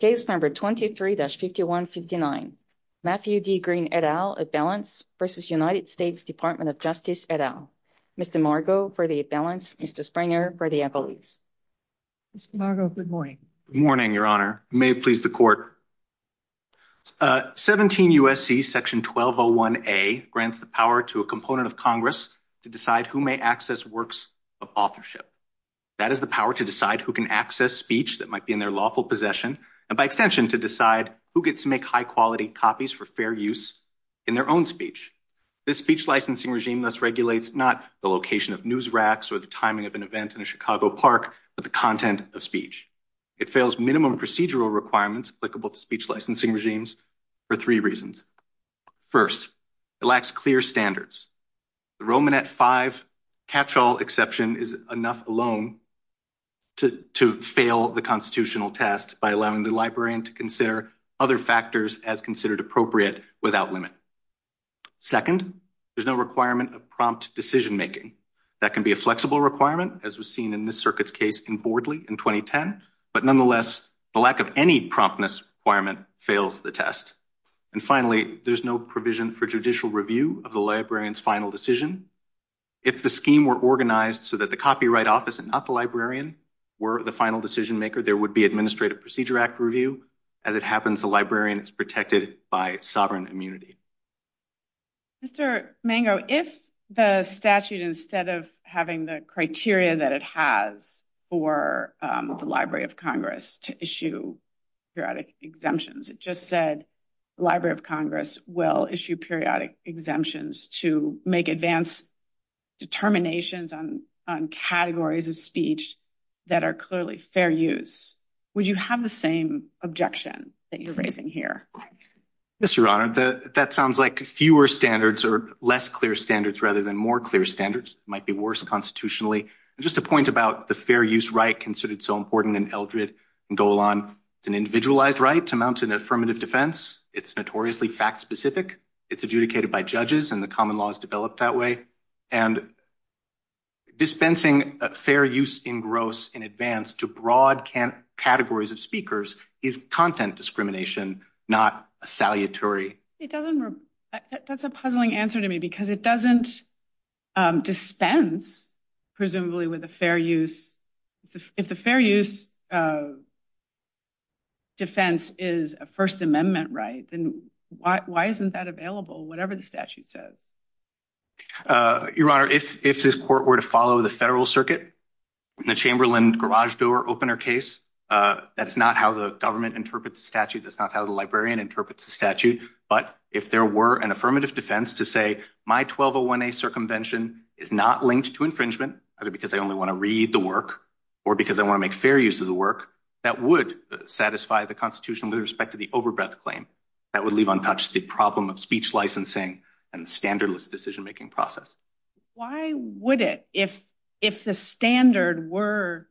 23-5159 Matthew D. Green, et al., Advance v. United States Department of Justice, et al., Mr. Margo, for the Advance, Mr. Springer, for the Evaluates. Mr. Margo, good morning. Good morning, Your Honor. May it please the Court. 17 U.S.C. Section 1201A grants the power to a component of Congress to decide who may access works of authorship. That is the power to decide who can access speech that might be in their lawful possession, and by extension, to decide who gets to make high-quality copies for fair use in their own speech. This speech licensing regime thus regulates not the location of news racks or the timing of an event in a Chicago park, but the content of speech. It fails minimum procedural requirements applicable to speech licensing regimes for three reasons. First, it lacks clear standards. The Romanet 5 catch-all exception is enough alone to fail the constitutional test by allowing the librarian to consider other factors as considered appropriate without limit. Second, there's no requirement of prompt decision-making. That can be a flexible requirement, as was seen in this circuit's case in Bordley in 2010, but nonetheless, the lack of any promptness requirement fails the test. And finally, there's no provision for judicial review of the librarian's final decision. If the scheme were organized so that the copyright office and not the librarian were the final decision-maker, there would be administrative procedure act review. As it happens, the librarian is protected by its sovereign immunity. Mr. Mango, if the statute, instead of having the criteria that it has for the Library of Congress to issue periodic exemptions, it just said the Library of Congress will issue periodic exemptions to make advance determinations on categories of speech that are clearly fair use, would you have the same objection that you're raising here? Yes, Your Honor. That sounds like fewer standards or less clear standards rather than more clear standards. It might be worse constitutionally. Just a point about the fair use right considered so important in Eldred and Golan. It's an individualized right. It amounts to an affirmative defense. It's notoriously fact-specific. It's adjudicated by judges, and the common law is developed that way. And dispensing a fair use engross in advance to broad categories of speakers is content discrimination, not a salutary. That's a puzzling answer to me because it doesn't dispense presumably with a fair use. If the fair use defense is a First Amendment right, then why isn't that available, whatever the statute says? Your Honor, if this court were to follow the federal circuit, the Chamberlain garage door opener case, that's not how the government interprets the statute. That's not how the librarian interprets the statute. But if there were an affirmative defense to say my 1201A circumvention is not linked to infringement, either because I only want to read the work or because I want to make fair use of the work, that would satisfy the Constitution with respect to the overbreath claim. That would leave untouched the problem of speech licensing and standardless decision-making process. Why would it? If the standard were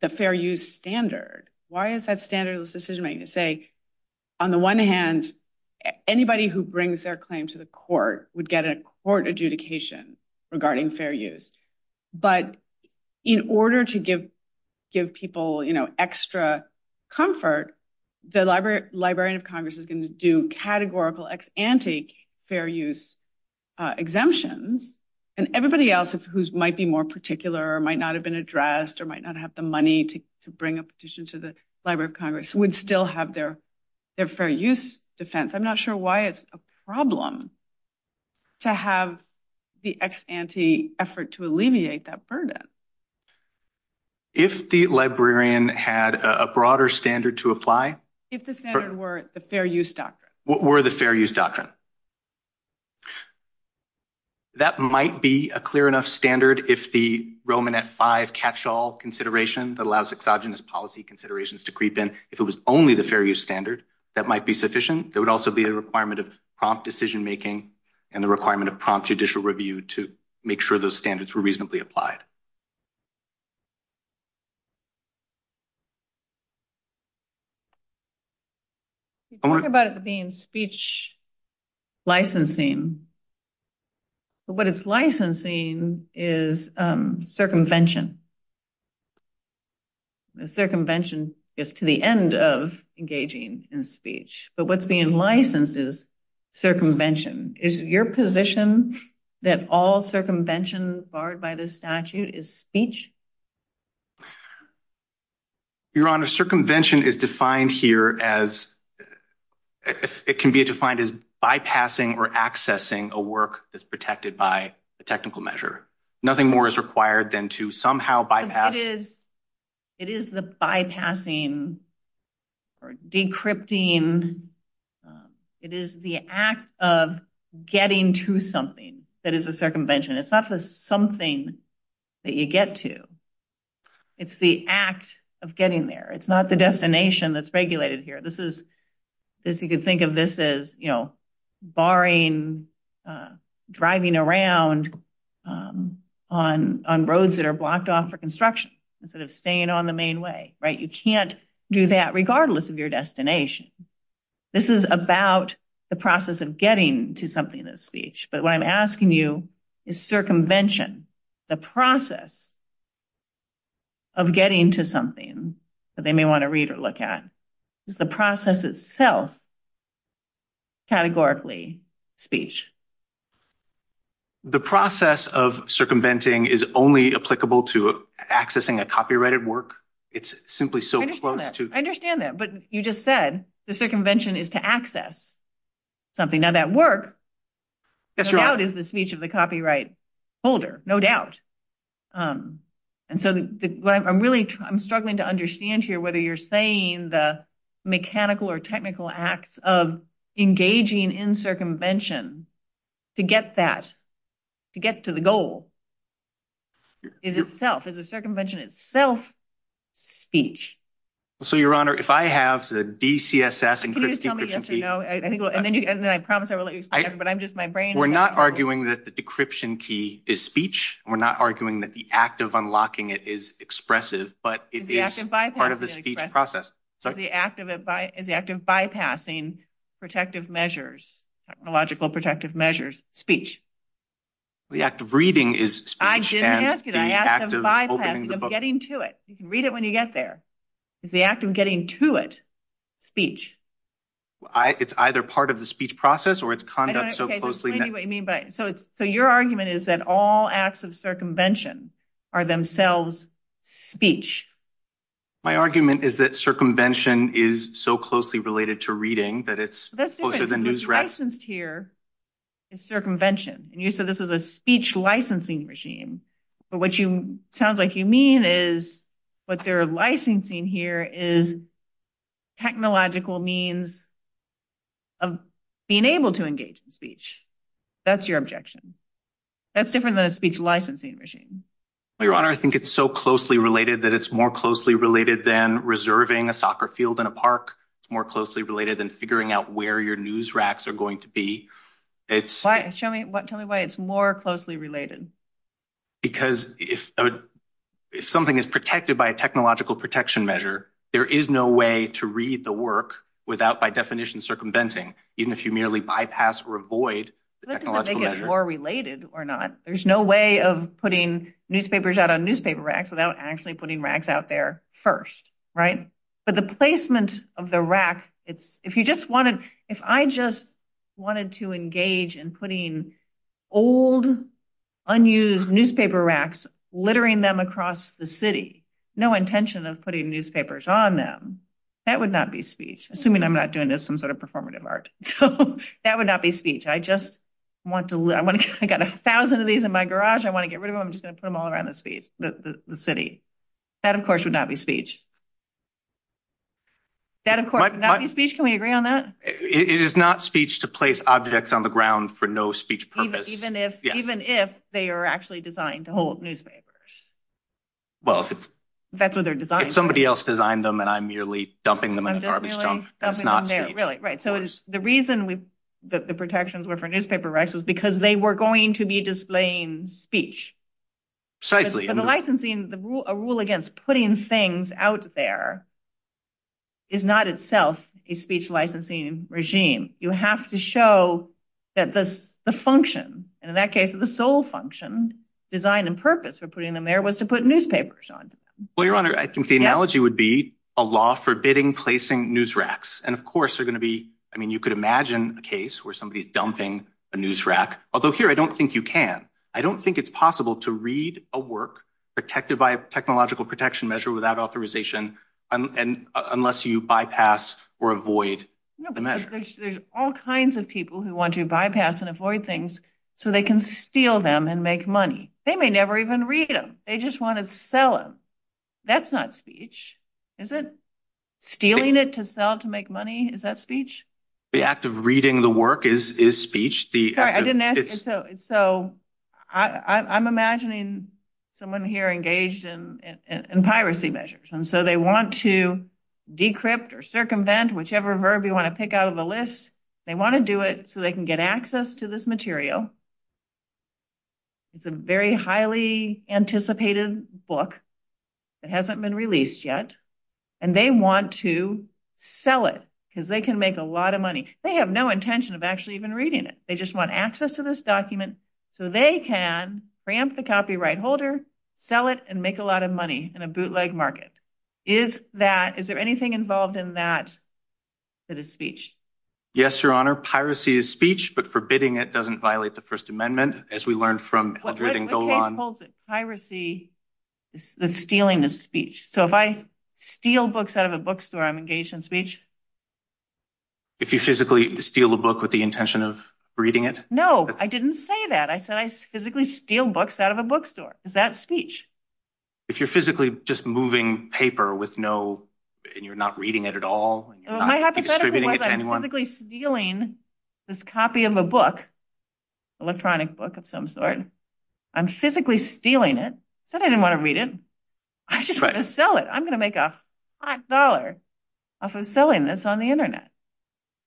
the fair use standard, why is that standardless decision-making? On the one hand, anybody who brings their claim to the court would get a court adjudication regarding fair use. But in order to give people extra comfort, the Librarian of Congress is going to do categorical ex-ante fair use exemptions, and everybody else who might be more particular or might not have been addressed or might not have the money to bring a petition to the Library of Congress would still have their fair use defense. I'm not sure why it's a problem to have the ex-ante effort to alleviate that burden. If the librarian had a broader standard to apply? If the standard were the fair use doctrine. That might be a clear enough standard if the Roman F-5 catch-all consideration that allows exogenous policy considerations to creep in. If it was only the fair use standard, that might be sufficient. There would also be a requirement of prompt decision-making and the requirement of prompt judicial review to make sure those standards were reasonably applied. You talk about it being speech licensing. What it's licensing is circumvention. Circumvention gets to the end of engaging in speech. But what's being licensed is circumvention. Is your position that all circumvention barred by the statute is speech? Your Honor, circumvention is defined here as bypassing or accessing a work that's protected by a technical measure. Nothing more is required than to somehow bypass. It is the bypassing or decrypting. It is the act of getting to something that is a circumvention. It's not just something that you get to. It's the act of getting there. It's not the destination that's regulated here. You can think of this as barring driving around on roads that are blocked off for construction instead of staying on the main way. You can't do that regardless of your destination. This is about the process of getting to something that's speech. But what I'm asking you is circumvention, the process of getting to something that they may want to read or look at. Is the process itself categorically speech? The process of circumventing is only applicable to accessing a copyrighted work. It's simply so close to... I understand that. But you just said the circumvention is to access something. Now, that work no doubt is the speech of the copyright holder. No doubt. And so what I'm really struggling to understand here, whether you're saying the mechanical or technical acts of engaging in circumvention to get that, to get to the goal, is itself, is the circumvention itself speech? So, Your Honor, if I have the DCSS encryption key... And then I promise I will let you speak, but I'm just... We're not arguing that the decryption key is speech. We're not arguing that the act of unlocking it is expressive, but it is part of the speech process. Is the act of bypassing protective measures, technological protective measures, speech? The act of reading is speech. I didn't ask you that. The act of bypassing, of getting to it. You can read it when you get there. Is the act of getting to it speech? It's either part of the speech process or it's conduct so closely... So your argument is that all acts of circumvention are themselves speech. My argument is that circumvention is so closely related to reading that it's... That's different. What's licensed here is circumvention. And you said this is a speech licensing regime. But what you... Sounds like you mean is what they're licensing here is technological means of being able to engage in speech. That's your objection. That's different than a speech licensing regime. Your Honor, I think it's so closely related that it's more closely related than reserving a soccer field in a park. It's more closely related than figuring out where your news racks are going to be. It's... Tell me why it's more closely related. Because if something is protected by a technological protection measure, there is no way to read the work without, by definition, circumventing, even if you merely bypass or avoid the technological measure. It's more related or not. There's no way of putting newspapers out on newspaper racks without actually putting racks out there first. Right? But the placement of the rack, it's... If you just wanted... If I just wanted to engage in putting old, unused newspaper racks, littering them across the city, no intention of putting newspapers on them, that would not be speech. Assuming I'm not doing this in some sort of performative art. That would not be speech. I just want to... I got a thousand of these in my garage. I want to get rid of them. I'm just going to put them all around the city. That, of course, would not be speech. That, of course, would not be speech. Can we agree on that? It is not speech to place objects on the ground for no speech purpose. Even if they are actually designed to hold newspapers. Well, if it's... That's what they're designed for. If somebody else designed them and I'm merely dumping them in a garbage dump, that's not speech. Really. Right. So, the reason that the protections were for newspaper racks was because they were going to be displaying speech. Precisely. So, the licensing... A rule against putting things out there is not itself a speech licensing regime. You have to show that the function, and in that case, the sole function, design and purpose for putting them there was to put newspapers on. Well, Your Honor, I think the analogy would be a law forbidding placing news racks. And, of course, they're going to be... I mean, you could imagine a case where somebody is dumping a news rack. Although, here, I don't think you can. I don't think it's possible to read a work protected by a technological protection measure without authorization unless you bypass or avoid the measure. No, because there's all kinds of people who want to bypass and avoid things so they can steal them and make money. They may never even read them. They just want to sell them. That's not speech. Is it? Stealing it to sell it to make money, is that speech? The act of reading the work is speech. I'm imagining someone here engaged in piracy measures, and so they want to decrypt or circumvent whichever verb you want to pick out of the list. They want to do it so they can get access to this material. It's a very highly anticipated book. It hasn't been released yet, and they want to sell it because they can make a lot of money. They have no intention of actually even reading it. They just want access to this document so they can preempt the copyright holder, sell it, and make a lot of money in a bootleg market. Is there anything involved in that that is speech? Yes, Your Honor. Piracy is speech, but forbidding it doesn't violate the First Amendment, as we learned from the reading going on. Piracy, the stealing is speech. So, if I steal books out of a bookstore, I'm engaged in speech? If you physically steal a book with the intention of reading it? No, I didn't say that. I said I physically steal books out of a bookstore. Is that speech? If you're physically just moving paper and you're not reading it at all? Am I hypothetically stealing this copy of a book, electronic book of some sort? I'm physically stealing it. I said I didn't want to read it. I just want to sell it. I'm going to make a hot dollar off of selling this on the Internet.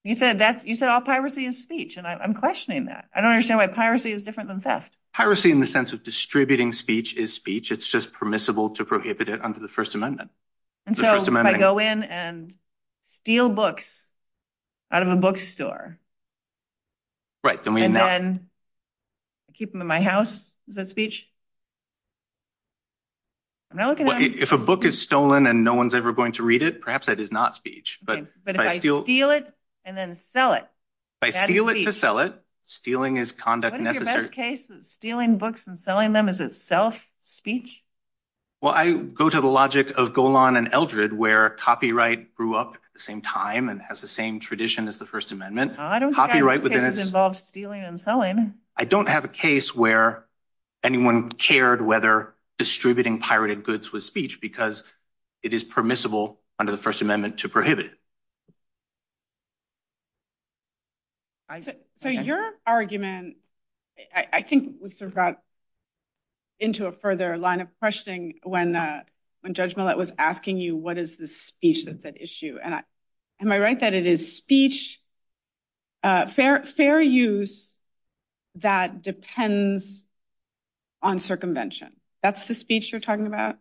You said all piracy is speech, and I'm questioning that. I don't understand why piracy is different than theft. Piracy in the sense of distributing speech is speech. It's just permissible to prohibit it under the First Amendment. So, if I go in and steal books out of a bookstore, and then keep them in my house, is that speech? If a book is stolen and no one's ever going to read it, perhaps that is not speech. But if I steal it and then sell it, that is speech. If I steal it to sell it, stealing is conduct necessary. What is your best case that stealing books and selling them is itself speech? Well, I go to the logic of Golan and Eldred, where copyright grew up at the same time and has the same tradition as the First Amendment. I don't have a case where anyone cared whether distributing pirated goods was speech, because it is permissible under the First Amendment to prohibit it. So, your argument, I think, would sort of route into a further line of questioning when Judge Millett was asking you, what is the speech that's at issue? Am I right that it is speech, fair use, that depends on circumvention? That's the speech you're talking about?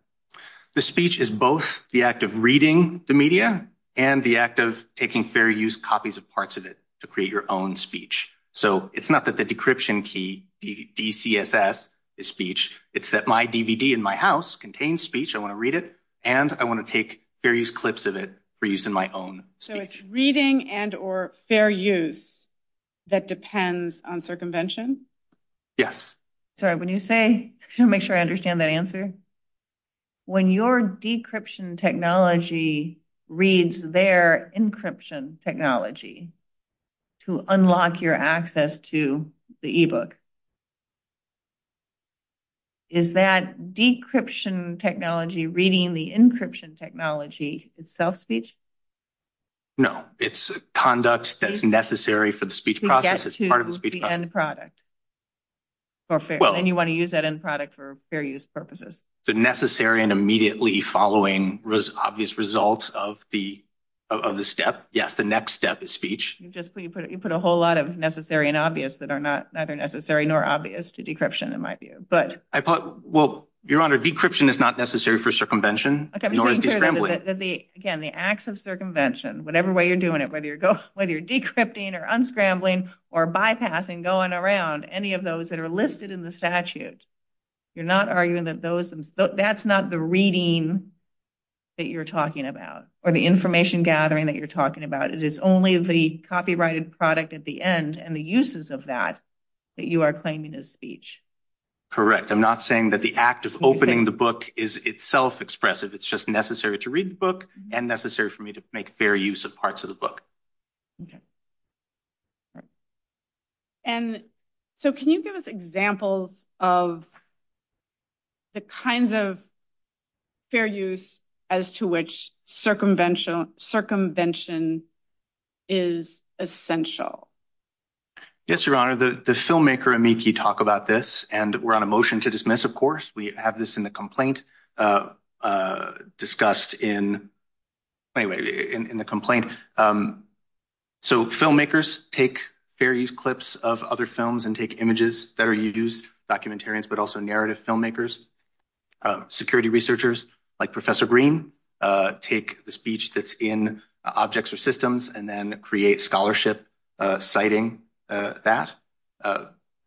The speech is both the act of reading the media and the act of taking fair use copies of parts of it to create your own speech. So, it's not that the decryption key, DCSS, is speech, it's that my DVD in my house contains speech, I want to read it, and I want to take various clips of it for use in my own speech. So, it's reading and or fair use that depends on circumvention? Yes. Sorry, can you make sure I understand that answer? When your decryption technology reads their encryption technology to unlock your access to the e-book, is that decryption technology reading the encryption technology self-speech? No, it's conduct that's necessary for the speech process as part of the speech process. And you want to use that end product for fair use purposes? The necessary and immediately following obvious results of the step, yes, the next step is speech. You put a whole lot of necessary and obvious that are neither necessary nor obvious to decryption in my view. Well, Your Honor, decryption is not necessary for circumvention. Again, the acts of circumvention, whatever way you're doing it, whether you're decrypting or unscrambling or bypassing, going around, any of those that are listed in the statute, you're not arguing that that's not the reading that you're talking about or the information gathering that you're talking about. It is only the copyrighted product at the end and the uses of that that you are claiming as speech. Correct. I'm not saying that the act of opening the book is itself expressive. It's just necessary to read the book and necessary for me to make fair use of parts of the book. And so can you give us examples of. The kinds of fair use as to which circumvention circumvention is essential. Yes, Your Honor, the filmmaker and make you talk about this and we're on a motion to dismiss, of course, we have this in the complaint discussed in anyway in the complaint. So filmmakers take various clips of other films and take images that are used documentarians, but also narrative filmmakers. Security researchers like Professor Green take the speech that's in objects or systems and then create scholarship citing that.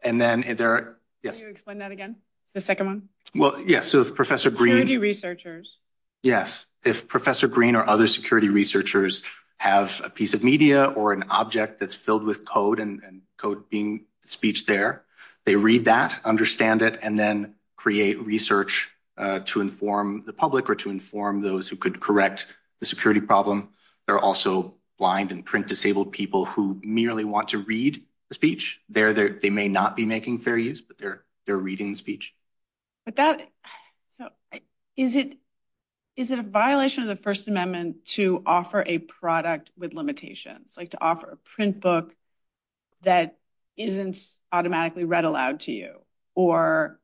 And then there. Yes. Explain that again. The second one. Well, yes. So if Professor Green researchers. Yes. If Professor Green or other security researchers have a piece of media or an object that's filled with code and code being speech there, they read that, understand it, and then create research to inform the public or to inform those who could correct the security problem. There are also blind and print disabled people who merely want to read the speech there. They may not be making fair use, but they're they're reading speech. But that is it is it a violation of the First Amendment to offer a product with limitations like to offer a print book. That isn't automatically read aloud to you or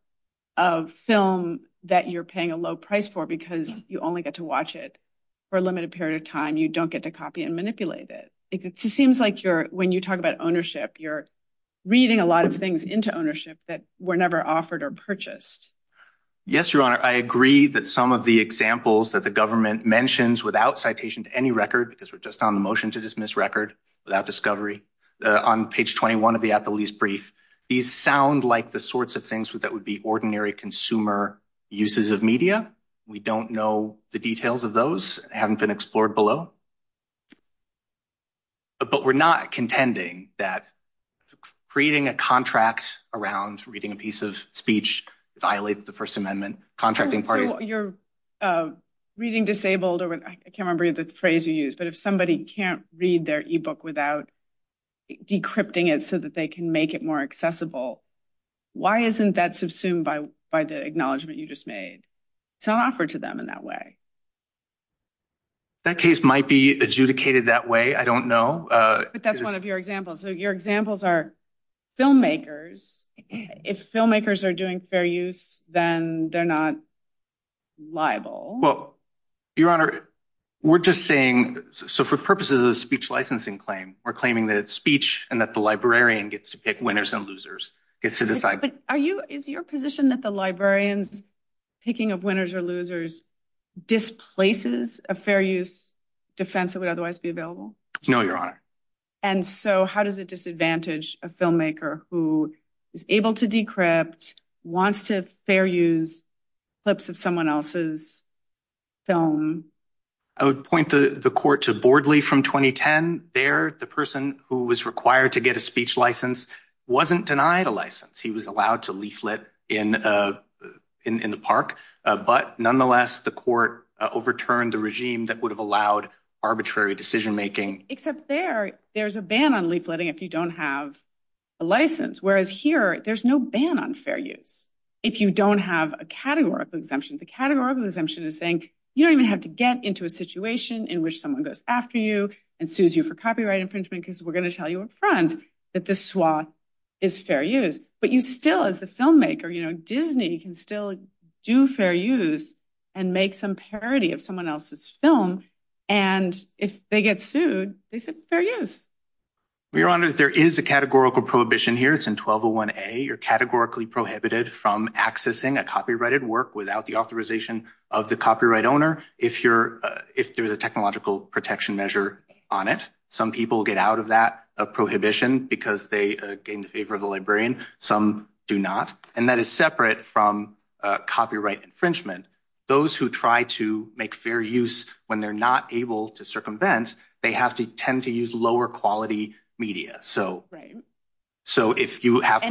of film that you're paying a low price for because you only get to watch it for a limited period of time. You don't get to copy and manipulate it. It seems like you're when you talk about ownership, you're reading a lot of things into ownership that were never offered or purchased. Yes, your honor. I agree that some of the examples that the government mentions without citation to any record, because we're just on the motion to dismiss record without discovery on page twenty one of the at the least brief. These sound like the sorts of things that would be ordinary consumer uses of media. We don't know the details of those haven't been explored below. But we're not contending that creating a contract around reading a piece of speech violates the First Amendment contracting party. You're reading disabled. I can't remember the phrase you use, but if somebody can't read their ebook without decrypting it so that they can make it more accessible. Why isn't that subsumed by by the acknowledgement you just made to offer to them in that way? That case might be adjudicated that way. I don't know. But that's one of your examples. So your examples are filmmakers. If filmmakers are doing fair use, then they're not liable. Your honor, we're just saying so for purposes of speech licensing claim, we're claiming that speech and that the librarian gets to pick winners and losers. Are you in your position that the librarians picking of winners or losers displaces a fair use defense that would otherwise be available? No, your honor. And so how does it disadvantage a filmmaker who is able to decrypt wants to fair use clips of someone else's film? I would point the court to Bordley from 2010. There, the person who was required to get a speech license wasn't denied a license. He was allowed to leaflet in the park. But nonetheless, the court overturned the regime that would have allowed arbitrary decision making. Except there, there's a ban on leafletting if you don't have a license. Whereas here, there's no ban on fair use. If you don't have a categorical exemption, the categorical exemption is saying you don't even have to get into a situation in which someone goes after you and sues you for copyright infringement because we're going to tell you in front that this swath is fair use. But you still, as a filmmaker, you know, Disney can still do fair use and make some parody of someone else's film. And if they get sued, they say fair use. Your honor, there is a categorical prohibition here. It's in 1201A. You're categorically prohibited from accessing a copyrighted work without the authorization of the copyright owner if there's a technological protection measure on it. Some people get out of that prohibition because they are in favor of the librarian. Some do not. And that is separate from copyright infringement. Those who try to make fair use when they're not able to circumvent, they have to tend to use lower quality media. And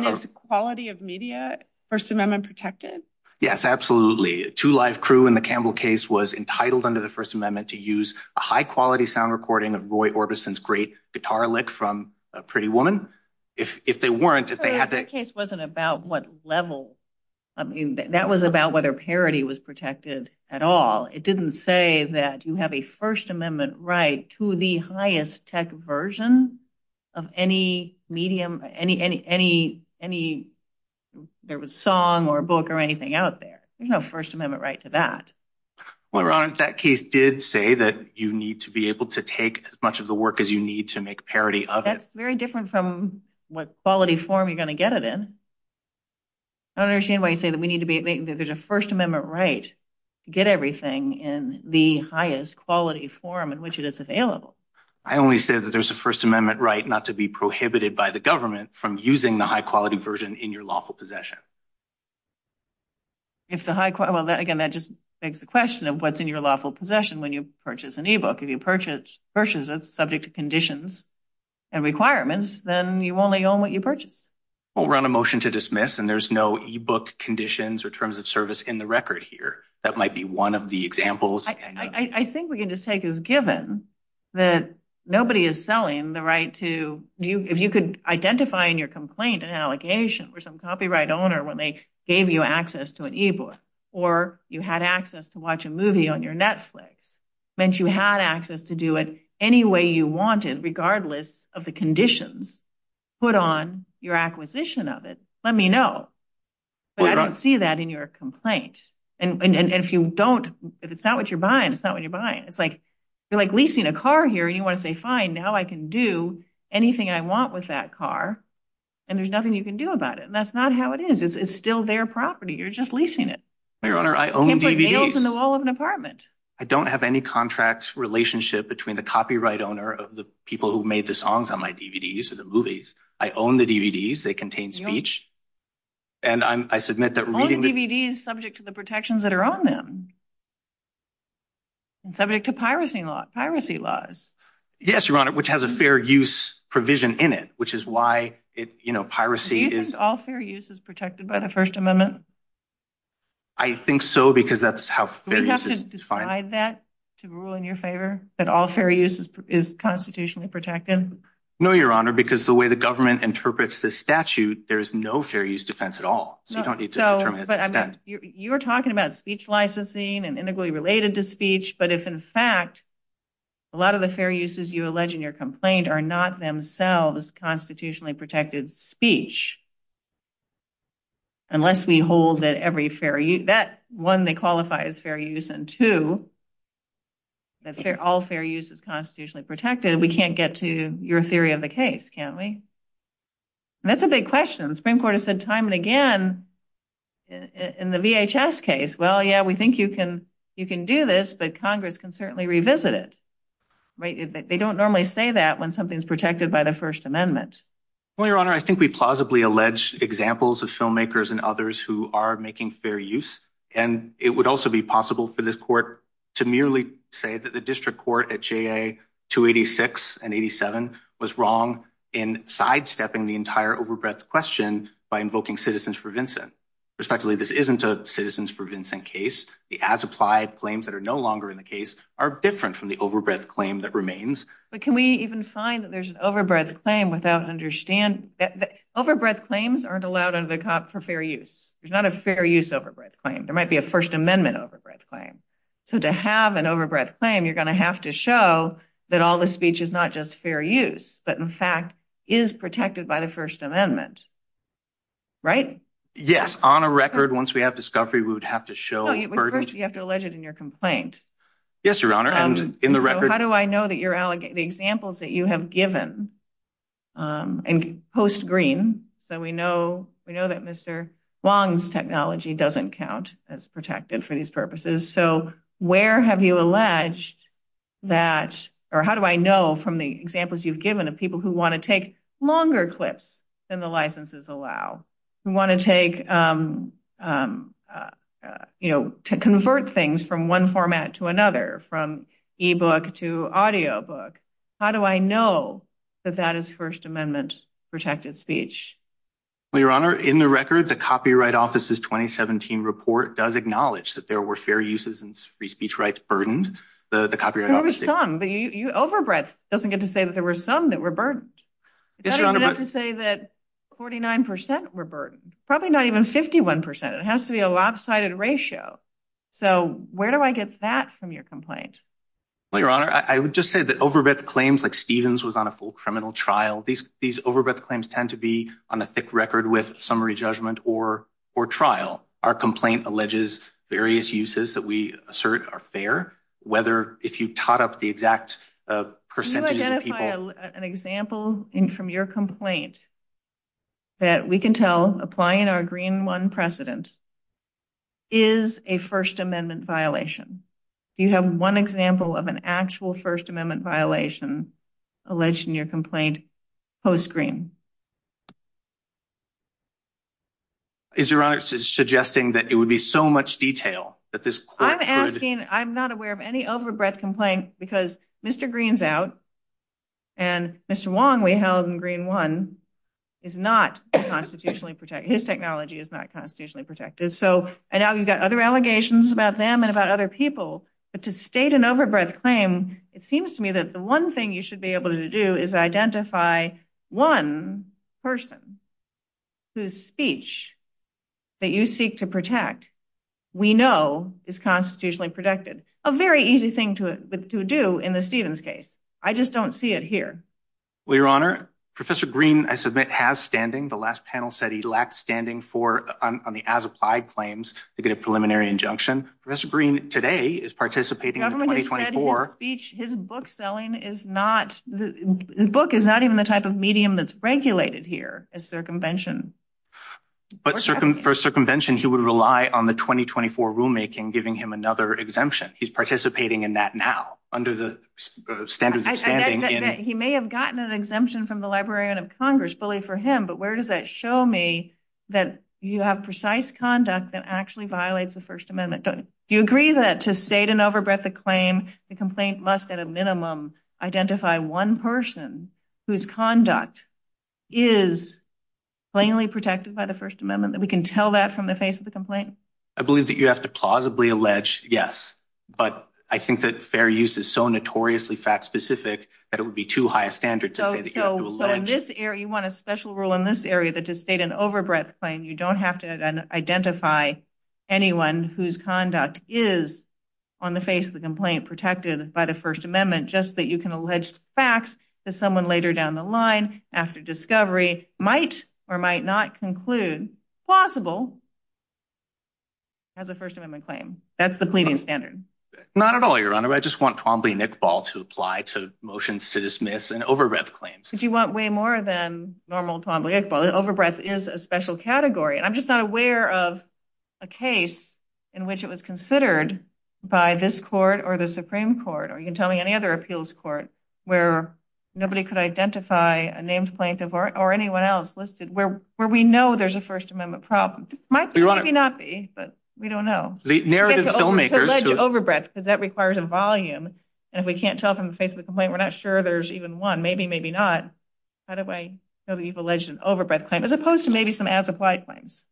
is quality of media First Amendment protected? Yes, absolutely. A two-life crew in the Campbell case was entitled under the First Amendment to use a high quality sound recording of Roy Orbison's great guitar lick from Pretty Woman. That case wasn't about what level. That was about whether parody was protected at all. It didn't say that you have a First Amendment right to the highest tech version of any medium, any song or book or anything out there. You have a First Amendment right to that. Well, your honor, that case did say that you need to be able to take as much of the work as you need to make parody of it. That's very different from what quality form you're going to get it in. I don't understand why you say that there's a First Amendment right to get everything in the highest quality form in which it is available. I only say that there's a First Amendment right not to be prohibited by the government from using the high quality version in your lawful possession. Again, that just begs the question of what's in your lawful possession when you purchase an e-book. If you purchase it subject to conditions and requirements, then you only own what you purchase. We'll run a motion to dismiss, and there's no e-book conditions or terms of service in the record here. That might be one of the examples. I think we can just take it as given that nobody is selling the right to – if you could identify in your complaint an allegation for some copyright owner when they gave you access to an e-book, or you had access to watch a movie on your Netflix, meant you had access to do it any way you wanted regardless of the conditions, put on your acquisition of it, let me know. I don't see that in your complaint. And if you don't – if it's not what you're buying, it's not what you're buying. It's like you're leasing a car here and you want to say, fine, now I can do anything I want with that car, and there's nothing you can do about it. And that's not how it is. It's still their property. You're just leasing it. Your Honor, I own DVDs. Only DVD is subject to the protections that are on them. It's subject to piracy laws. Yes, Your Honor, which has a fair use provision in it, which is why piracy is – Do you think all fair use is protected by the First Amendment? I think so, because that's how fair use is defined. Would you have to decide that to rule in your favor, that all fair use is constitutionally protected? No, Your Honor, because the way the government interprets this statute, there's no fair use defense at all. So you don't need to determine it. You're talking about speech licensing and integrally related to speech, but if in fact a lot of the fair uses you allege in your complaint are not themselves constitutionally protected speech, unless we hold that every fair use – that one, they qualify as fair use, and two, that all fair use is constitutionally protected, we can't get to your theory of the case, can we? That's a big question. The Supreme Court has said time and again in the VHS case, well, yeah, we think you can do this, but Congress can certainly revisit it. They don't normally say that when something is protected by the First Amendment. Well, Your Honor, I think we plausibly allege examples of filmmakers and others who are making fair use, and it would also be possible for this court to merely say that the district court at JA 286 and 87 was wrong in sidestepping the entire overbreadth question by invoking Citizens for Vincent. Respectively, this isn't a Citizens for Vincent case. The as-applied claims that are no longer in the case are different from the overbreadth claim that remains. But can we even find that there's an overbreadth claim without understanding – overbreadth claims aren't allowed for fair use. There's not a fair use overbreadth claim. There might be a First Amendment overbreadth claim. So to have an overbreadth claim, you're going to have to show that all the speech is not just fair use, but in fact is protected by the First Amendment, right? Yes, on a record, once we have discovery, we would have to show the verdict. No, but first you have to allege it in your complaint. Yes, Your Honor, and in the record – So how do I know that the examples that you have given, and post-green, so we know that Mr. Wong's technology doesn't count as protected for these purposes. So where have you alleged that – or how do I know from the examples you've given of people who want to take longer clips than the licenses allow? Who want to take – you know, to convert things from one format to another, from e-book to audio book. How do I know that that is First Amendment protected speech? Well, Your Honor, in the record, the Copyright Office's 2017 report does acknowledge that there were fair uses and free speech rights burdened. There were some, but overbreadth doesn't get to say that there were some that were burdened. It doesn't get to say that 49% were burdened, probably not even 51%. It has to be a lopsided ratio. So where do I get that from your complaint? Well, Your Honor, I would just say that overbreadth claims like Stevens was on a full criminal trial. These overbreadth claims tend to be on a thick record with summary judgment or trial. Our complaint alleges various uses that we assert are fair, whether – if you've taught up the exact percentage of people – Can you identify an example from your complaint that we can tell, applying our Green One precedent, is a First Amendment violation? Do you have one example of an actual First Amendment violation alleged in your complaint post-Green? Is Your Honor suggesting that it would be so much detail that this court could – I'm asking – I'm not aware of any overbreadth complaint because Mr. Green's out, and Mr. Wong, we held in Green One, is not constitutionally protected. His technology is not constitutionally protected. So I know you've got other allegations about them and about other people, but to state an overbreadth claim, it seems to me that the one thing you should be able to do is identify one person whose speech that you seek to protect we know is constitutionally protected. A very easy thing to do in the Stevens case. I just don't see it here. Well, Your Honor, Professor Green, I submit, has standing. The last panel said he lacked standing on the as-applied claims to get a preliminary injunction. Professor Green today is participating in the 2024 – His book selling is not – his book is not even the type of medium that's regulated here as circumvention. But for circumvention, he would rely on the 2024 rulemaking giving him another exemption. He's participating in that now, under the standards of standing. He may have gotten an exemption from the Librarian of Congress, believe for him, but where does that show me that you have precise conduct that actually violates the First Amendment? Do you agree that to state an overbreadth claim, the complaint must at a minimum identify one person whose conduct is plainly protected by the First Amendment, that we can tell that from the face of the complaint? I believe that you have to plausibly allege, yes. But I think that fair use is so notoriously fact-specific that it would be too high a standard to say that you have to allege. So in this area, you want a special rule in this area that to state an overbreadth claim, you don't have to identify anyone whose conduct is on the face of the complaint protected by the First Amendment, just that you can allege facts that someone later down the line, after discovery, might or might not conclude plausible as a First Amendment claim. That's the pleading standard. Not at all, Your Honor. I just want Twombly-Nichbol to apply to motions to dismiss an overbreadth claim. But you want way more than normal Twombly-Nichbol. Overbreadth is a special category. I'm just not aware of a case in which it was considered by this court or the Supreme Court, or you can tell me any other appeals court, where nobody could identify a names plaintiff or anyone else listed, where we know there's a First Amendment problem. Might or might not be, but we don't know. You can allege overbreadth because that requires a volume, and if we can't tell from the face of the complaint, we're not sure there's even one. Maybe, maybe not. How do I know that you've alleged an overbreadth claim, as opposed to maybe some as-applied claims?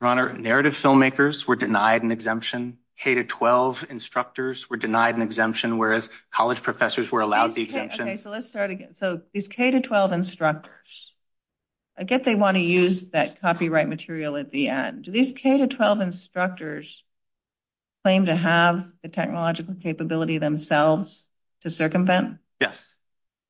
Your Honor, narrative filmmakers were denied an exemption. K-12 instructors were denied an exemption, whereas college professors were allowed the exemption. Okay, so let's start again. So these K-12 instructors, I guess they want to use that copyright material at the end. Do these K-12 instructors claim to have the technological capability themselves to circumvent? Yes.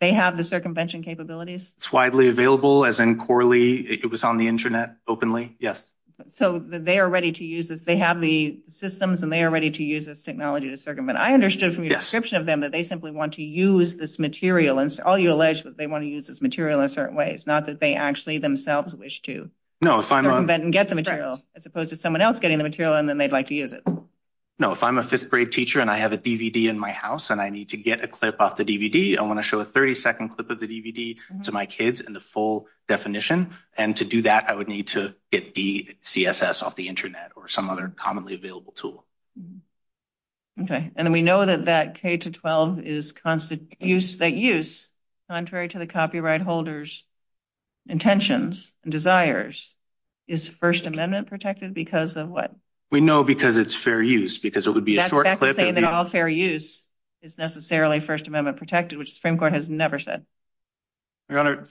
They have the circumvention capabilities? It's widely available, as in Corley, it was on the internet openly, yes. So they are ready to use this, they have the systems and they are ready to use this technology to circumvent. I understood from your description of them that they simply want to use this material, and all you allege is that they want to use this material in certain ways, not that they actually themselves wish to circumvent and get the material, as opposed to someone else getting the material and then they'd like to use it. No, if I'm a fifth grade teacher and I have a DVD in my house and I need to get a clip off the DVD, I want to show a 30-second clip of the DVD to my kids in the full definition, and to do that I would need to get the CSS off the internet or some other commonly available tool. Okay, and we know that that K-12, that use, contrary to the copyright holder's intentions and desires, is First Amendment protected because of what? We know because it's fair use, because it would be a short clip. That fact that it's all fair use is necessarily First Amendment protected, which the Supreme Court has never said. Your Honor,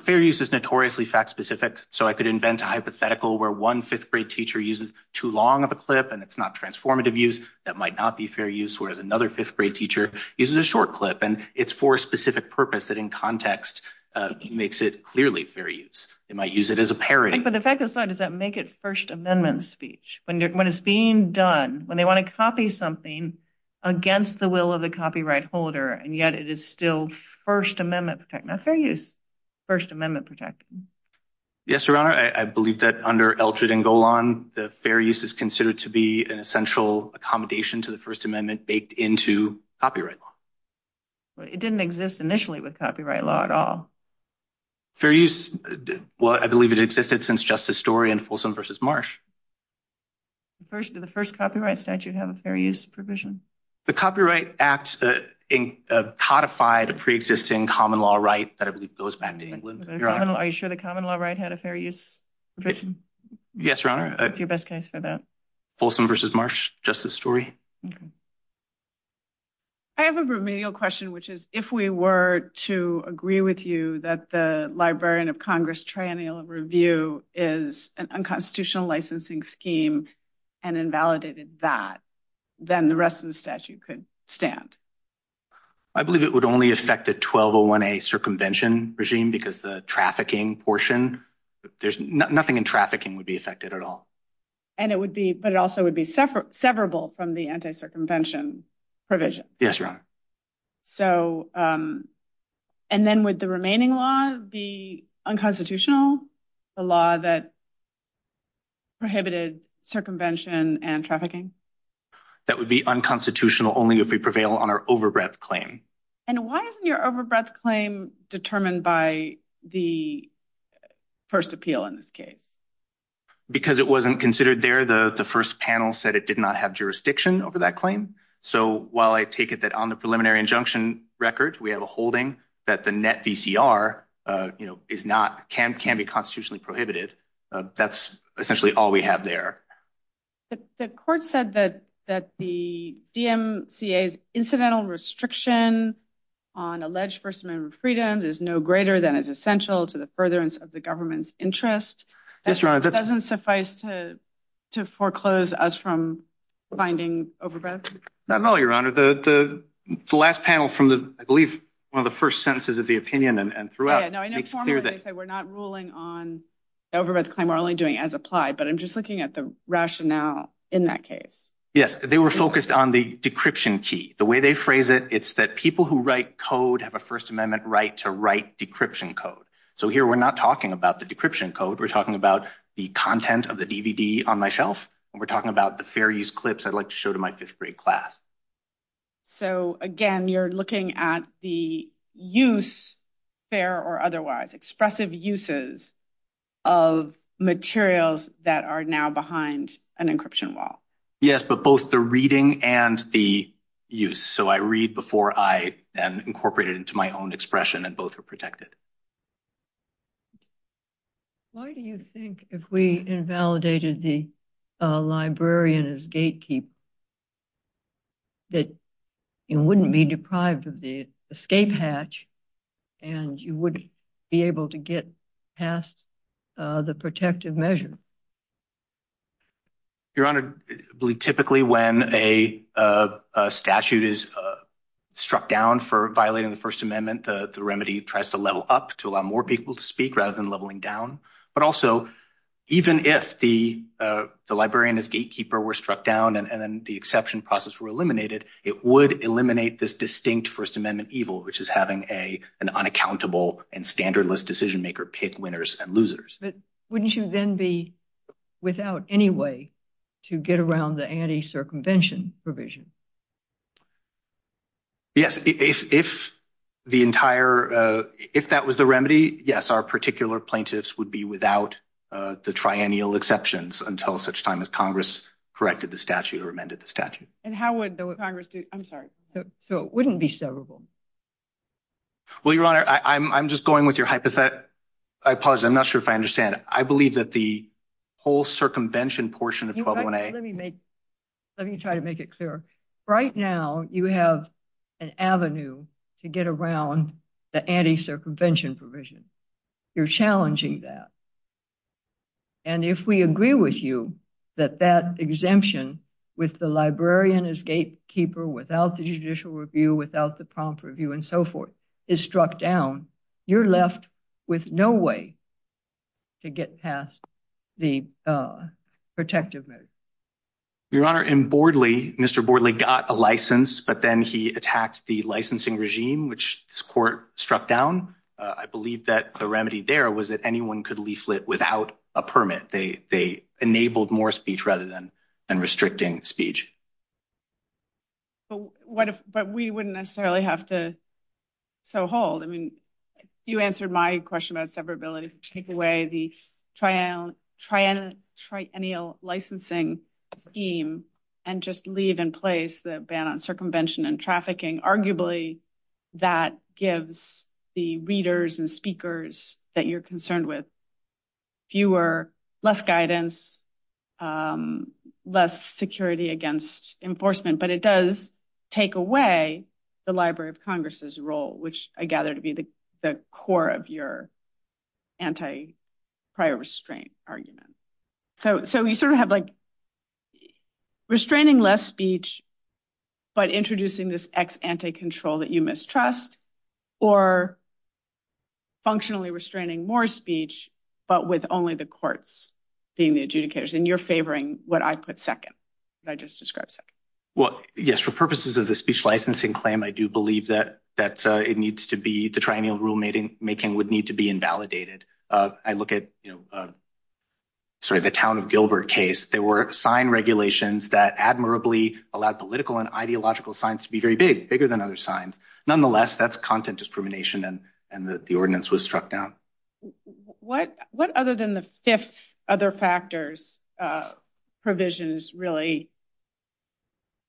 fair use is notoriously fact-specific, so I could invent a hypothetical where one fifth grade teacher uses too long of a clip and it's not transformative use, that might not be fair use, whereas another fifth grade teacher uses a short clip and it's for a specific purpose that in context makes it clearly fair use. They might use it as a parody. But the fact aside, does that make it First Amendment speech? When it's being done, when they want to copy something against the will of the copyright holder and yet it is still First Amendment protected? Now, fair use is First Amendment protected. Yes, Your Honor, I believe that under Eldred and Golan, fair use is considered to be an essential accommodation to the First Amendment baked into copyright law. But it didn't exist initially with copyright law at all. Fair use, well, I believe it existed since Justice Story and Folsom v. Marsh. Did the first copyright statute have a fair use provision? The Copyright Act codified a pre-existing common law right that I believe goes back to England. Are you sure the common law right had a fair use provision? Yes, Your Honor. What's your best case for that? Folsom v. Marsh, Justice Story. I have a remedial question, which is if we were to agree with you that the Librarian of Congress Triennial Review is an unconstitutional licensing scheme and invalidated that, then the rest of the statute could stand. I believe it would only affect the 1201A circumvention regime because the trafficking portion, there's nothing in trafficking would be affected at all. But it also would be severable from the anti-circumvention provision. Yes, Your Honor. And then would the remaining law be unconstitutional, the law that prohibited circumvention and trafficking? That would be unconstitutional only if we prevail on our over-breadth claim. And why isn't your over-breadth claim determined by the first appeal in this case? Because it wasn't considered there. The first panel said it did not have jurisdiction over that claim. So while I take it that on the preliminary injunction record, we have a holding that the net VCR is not, can be constitutionally prohibited, that's essentially all we have there. The court said that the DMCA's incidental restriction on alleged first amendment freedom is no greater than it's essential to the furtherance of the government's interest. Doesn't suffice to foreclose us from finding over-breadth? Not at all, Your Honor. The last panel from the, I believe, one of the first sentences of the opinion and throughout. I know formally they say we're not ruling on over-breadth claim, we're only doing as applied, but I'm just looking at the rationale in that case. Yes, they were focused on the decryption key. The way they phrase it, it's that people who write code have a first amendment right to write decryption code. So here we're not talking about the decryption code, we're talking about the content of the DVD on my shelf, and we're talking about the fair use clips I'd like to show to my fifth grade class. So, again, you're looking at the use, fair or otherwise, expressive uses of materials that are now behind an encryption wall. Yes, but both the reading and the use. So I read before I am incorporated into my own expression and both are protected. Why do you think if we invalidated the librarian as gatekeeper that you wouldn't be deprived of the escape hatch and you wouldn't be able to get past the protective measure? Your Honor, typically when a statute is struck down for violating the First Amendment, the remedy tries to level up to allow more people to speak rather than leveling down. But also, even if the librarian as gatekeeper were struck down and the exception process were eliminated, it would eliminate this distinct First Amendment evil, which is having an unaccountable and standardless decision maker pick winners and losers. But wouldn't you then be without any way to get around the anti-circumvention provision? Yes, if that was the remedy, yes, our particular plaintiffs would be without the triennial exceptions until such time as Congress corrected the statute or amended the statute. And how would Congress do it? I'm sorry, so it wouldn't be sellable? Well, Your Honor, I'm just going with your hypothesis. I'm not sure if I understand it. I believe that the whole circumvention portion of 121A… Let me try to make it clear. Right now you have an avenue to get around the anti-circumvention provision. You're challenging that. And if we agree with you that that exemption with the librarian as gatekeeper, without the judicial review, without the prompt review, and so forth, is struck down, you're left with no way to get past the protective measure. Your Honor, in Bordley, Mr. Bordley got a license, but then he attacked the licensing regime, which this court struck down. I believe that the remedy there was that anyone could lease it without a permit. They enabled more speech rather than restricting speech. But we wouldn't necessarily have to so hold. I mean, you answered my question about severability. Take away the triennial licensing scheme and just leave in place the ban on circumvention and trafficking. Arguably, that gives the readers and speakers that you're concerned with fewer, less guidance, less security against enforcement. But it does take away the Library of Congress's role, which I gather to be the core of your anti-prior restraint argument. So you sort of have, like, restraining less speech, but introducing this ex-ante control that you mistrust, or functionally restraining more speech, but with only the courts being the adjudicators. And you're favoring what I put second, what I just described second. Well, yes, for purposes of the speech licensing claim, I do believe that the triennial rulemaking would need to be invalidated. I look at the Town of Gilbert case. There were sign regulations that admirably allowed political and ideological signs to be very big, bigger than other signs. Nonetheless, that's content discrimination, and the ordinance was struck down. What other than the fifth other factors provisions really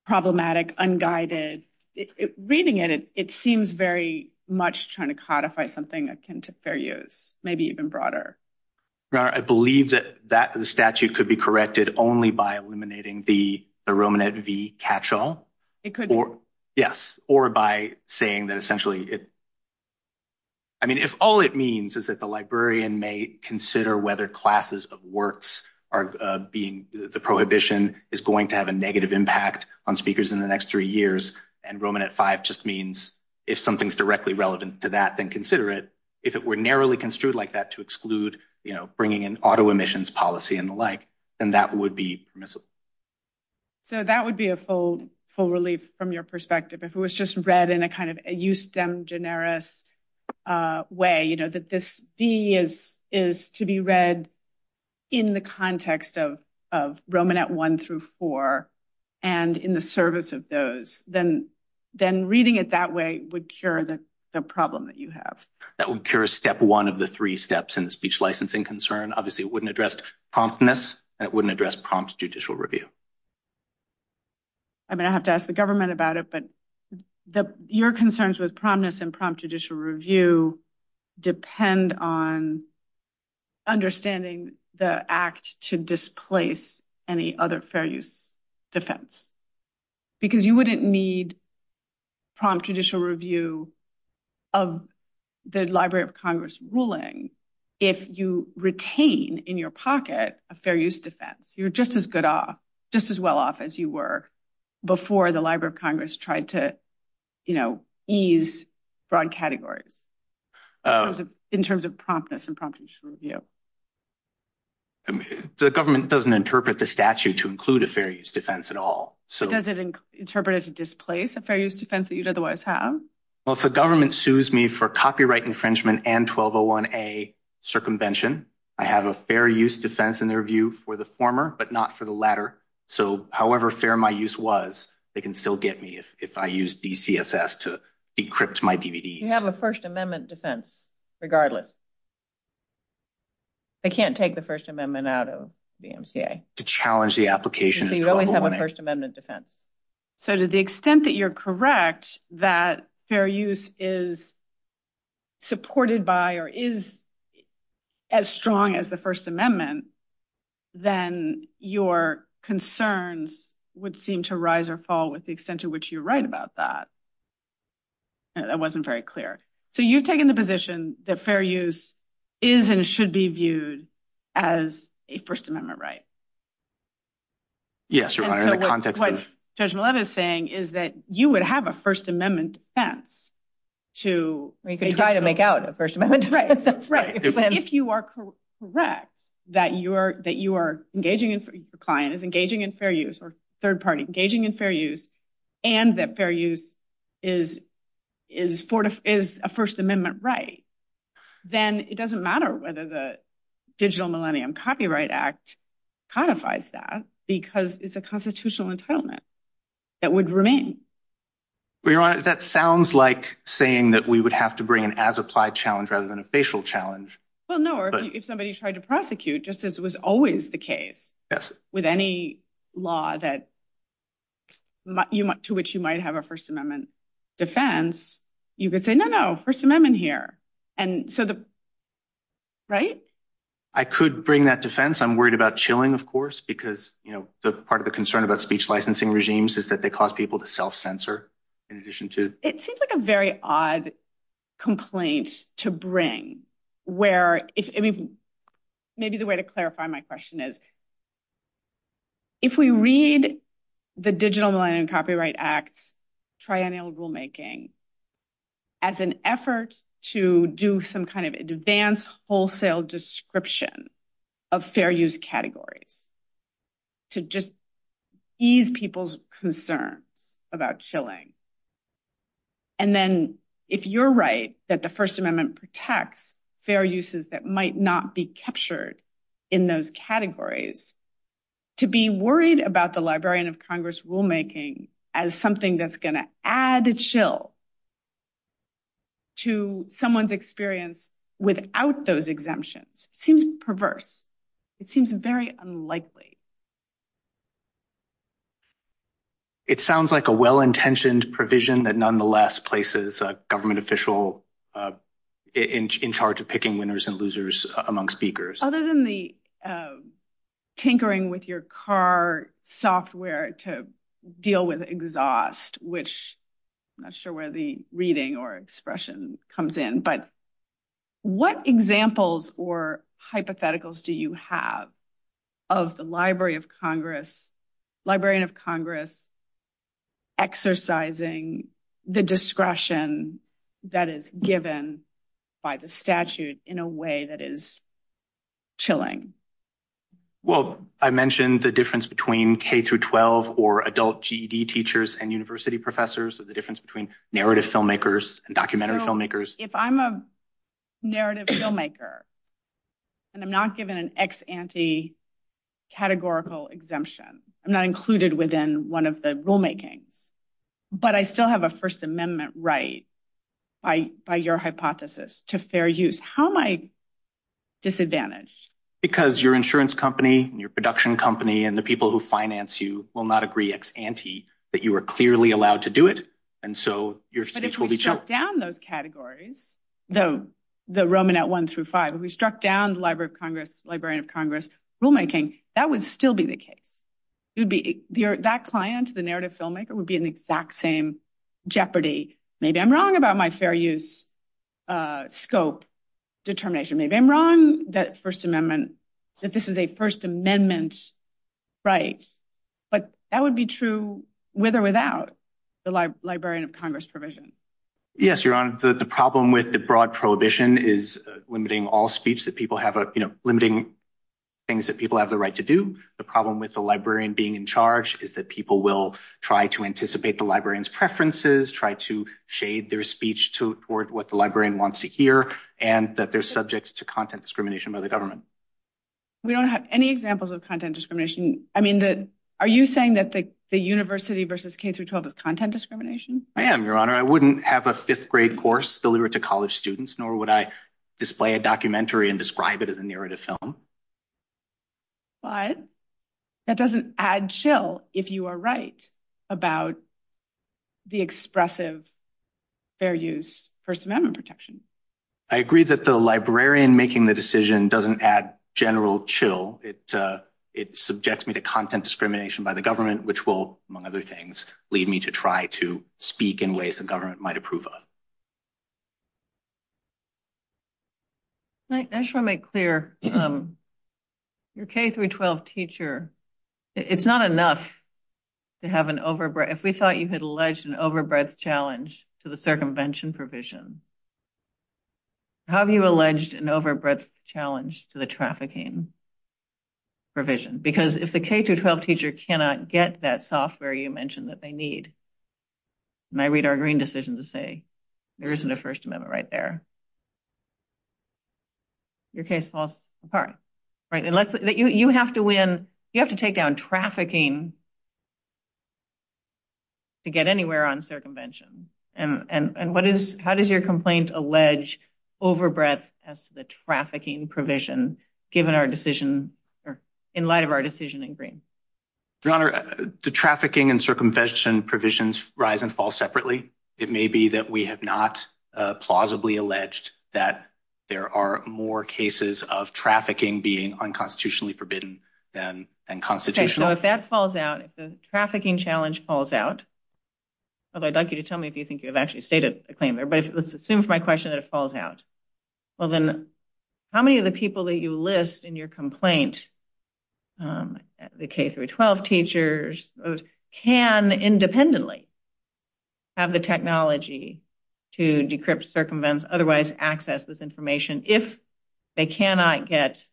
problematic, unguided? Reading it, it seems very much trying to codify something akin to fair use, maybe even broader. I believe that the statute could be corrected only by eliminating the Romanette v. Catchall. Yes, or by saying that essentially it – I mean, if all it means is that the librarian may consider whether classes of works are being – the prohibition is going to have a negative impact on speakers in the next three years, and Romanette v just means if something's directly relevant to that, then consider it. If it were narrowly construed like that to exclude bringing in auto emissions policy and the like, then that would be permissible. So that would be a full relief from your perspective. If it was just read in a kind of eustem generis way, you know, that this v is to be read in the context of Romanette I through IV and in the service of those, then reading it that way would cure the problem that you have. That would cure step one of the three steps in the speech licensing concern. Obviously, it wouldn't address promptness. That wouldn't address prompt judicial review. I'm going to have to ask the government about it, but your concerns with promptness and prompt judicial review depend on understanding the act to displace any other fair use defense. Because you wouldn't need prompt judicial review of the Library of Congress ruling if you retain in your pocket a fair use defense. You're just as good off, just as well off as you were before the Library of Congress tried to, you know, ease broad categories in terms of promptness and prompt judicial review. The government doesn't interpret the statute to include a fair use defense at all. Does it interpret it to displace a fair use defense that you'd otherwise have? Well, if the government sues me for copyright infringement and 1201A circumvention, I have a fair use defense in their view for the former, but not for the latter. So however fair my use was, they can still get me if I use DCSS to decrypt my DVDs. You have a First Amendment defense regardless. I can't take the First Amendment out of the MCA. To challenge the application. You only have a First Amendment defense. So to the extent that you're correct that fair use is supported by or is as strong as the First Amendment, then your concerns would seem to rise or fall with the extent to which you write about that. That wasn't very clear. So you've taken the position that fair use is and should be viewed as a First Amendment right? Yes, Your Honor. What Judge Mileva is saying is that you would have a First Amendment defense. You could try to make out a First Amendment defense. If you are correct that you are engaging in fair use and that fair use is a First Amendment right, then it doesn't matter whether the Digital Millennium Copyright Act codifies that because it's a constitutional entitlement that would remain. Your Honor, that sounds like saying that we would have to bring an as-applied challenge rather than a facial challenge. Well, no. If somebody tried to prosecute, just as was always the case with any law to which you might have a First Amendment defense, you could say, no, no, First Amendment here. Right? I could bring that defense. I'm worried about chilling, of course, because part of the concern about speech licensing regimes is that they cause people to self-censor. It seems like a very odd complaint to bring. Maybe the way to clarify my question is, if we read the Digital Millennium Copyright Act triennial rulemaking as an effort to do some kind of advanced wholesale description of fair use categories to just ease people's concern about chilling, and then if you're right that the First Amendment protects fair uses that might not be captured in those categories, to be worried about the Librarian of Congress rulemaking as something that's going to add a chill to someone's experience without those exemptions seems perverse. It seems very unlikely. It sounds like a well-intentioned provision that nonetheless places a government official in charge of picking winners and losers among speakers. Other than the tinkering with your car software to deal with exhaust, which I'm not sure where the reading or expression comes in, but what examples or hypotheticals do you have of the Librarian of Congress exercising the discretion that is given by the statute in a way that is chilling? Well, I mentioned the difference between K-12 or adult GED teachers and university professors, the difference between narrative filmmakers and documentary filmmakers. If I'm a narrative filmmaker and I'm not given an ex ante categorical exemption, I'm not included within one of the rulemaking, but I still have a First Amendment right by your hypothesis to fair use, how am I disadvantaged? Because your insurance company and your production company and the people who finance you will not agree ex ante that you are clearly allowed to do it, and so your speech will be chilled. If we struck down those categories, the Roman at one through five, if we struck down the Librarian of Congress rulemaking, that would still be the case. That client, the narrative filmmaker, would be in the exact same jeopardy. Maybe I'm wrong about my fair use scope determination, maybe I'm wrong that this is a First Amendment right, but that would be true with or without the Librarian of Congress provision. Yes, Your Honor, the problem with the broad prohibition is limiting all speech, limiting things that people have the right to do. The problem with the librarian being in charge is that people will try to anticipate the librarian's preferences, try to shade their speech toward what the librarian wants to hear, and that they're subject to content discrimination by the government. We don't have any examples of content discrimination. I mean, are you saying that the university versus K-12 is content discrimination? I am, Your Honor. I wouldn't have a fifth grade course delivered to college students, nor would I display a documentary and describe it as a narrative film. But that doesn't add chill, if you are right, about the expressive fair use First Amendment protection. I agree that the librarian making the decision doesn't add general chill. It subjects me to content discrimination by the government, which will, among other things, lead me to try to speak in ways the government might approve of. I just want to make clear, your K-12 teacher, it's not enough to have an overbreath. If we thought you had alleged an overbreath challenge to the circumvention provision, how have you alleged an overbreath challenge to the trafficking provision? Because if the K-12 teacher cannot get that software you mentioned that they need, and I read our green decision to say, there isn't a First Amendment right there, your case falls apart. You have to win. You have to take down trafficking to get anywhere on circumvention. And how does your complaint allege overbreath as the trafficking provision, given our decision, in light of our decision in green? Your Honor, the trafficking and circumvention provisions rise and fall separately. It may be that we have not plausibly alleged that there are more cases of trafficking being unconstitutionally forbidden than constitutional. So if that falls out, if the trafficking challenge falls out, although I'd like you to tell me if you think you've actually stated a claim there, but let's assume for my question that it falls out, well then, how many of the people that you list in your complaint, the K-12 teachers, can independently have the technology to decrypt, circumvent, otherwise access this information, if they cannot get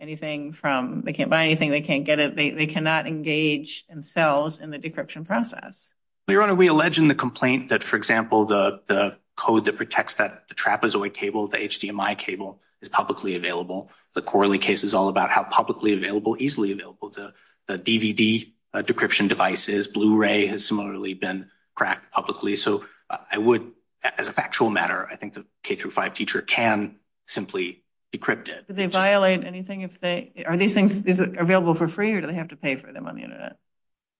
anything from, they can't buy anything, they can't get it, they cannot engage themselves in the decryption process? Your Honor, we allege in the complaint that, for example, the code that protects that trapezoid cable, the HDMI cable, is publicly available. The Corley case is all about how publicly available, easily available, the DVD decryption devices, Blu-ray has similarly been cracked publicly. So I would, as a factual matter, I think the K-5 teacher can simply decrypt it. Does it violate anything if they, are these things available for free or do they have to pay for them on the internet?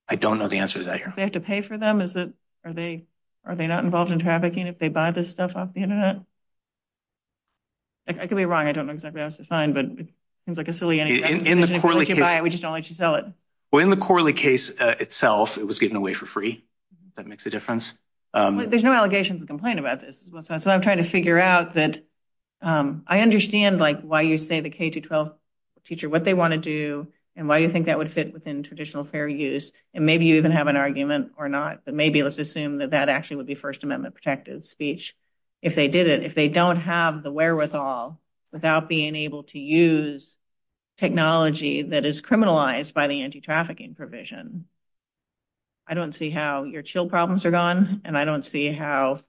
I don't know the answer to that, Your Honor. Do they have to pay for them? Are they not involved in trafficking if they buy this stuff off the internet? I could be wrong, I don't know exactly what that's defined, but it seems like a silly answer. In the Corley case. We just don't let you sell it. Well, in the Corley case itself, it was given away for free, if that makes a difference. There's no allegation in the complaint about this. That's what I'm trying to figure out, that I understand, like, why you say the K-12 teacher, what they want to do, and why you think that would fit within traditional fair use. And maybe you even have an argument or not, but maybe let's assume that that actually would be First Amendment protective speech if they did it. Without being able to use technology that is criminalized by the anti-trafficking provision. I don't see how your chill problems are gone, and I don't see how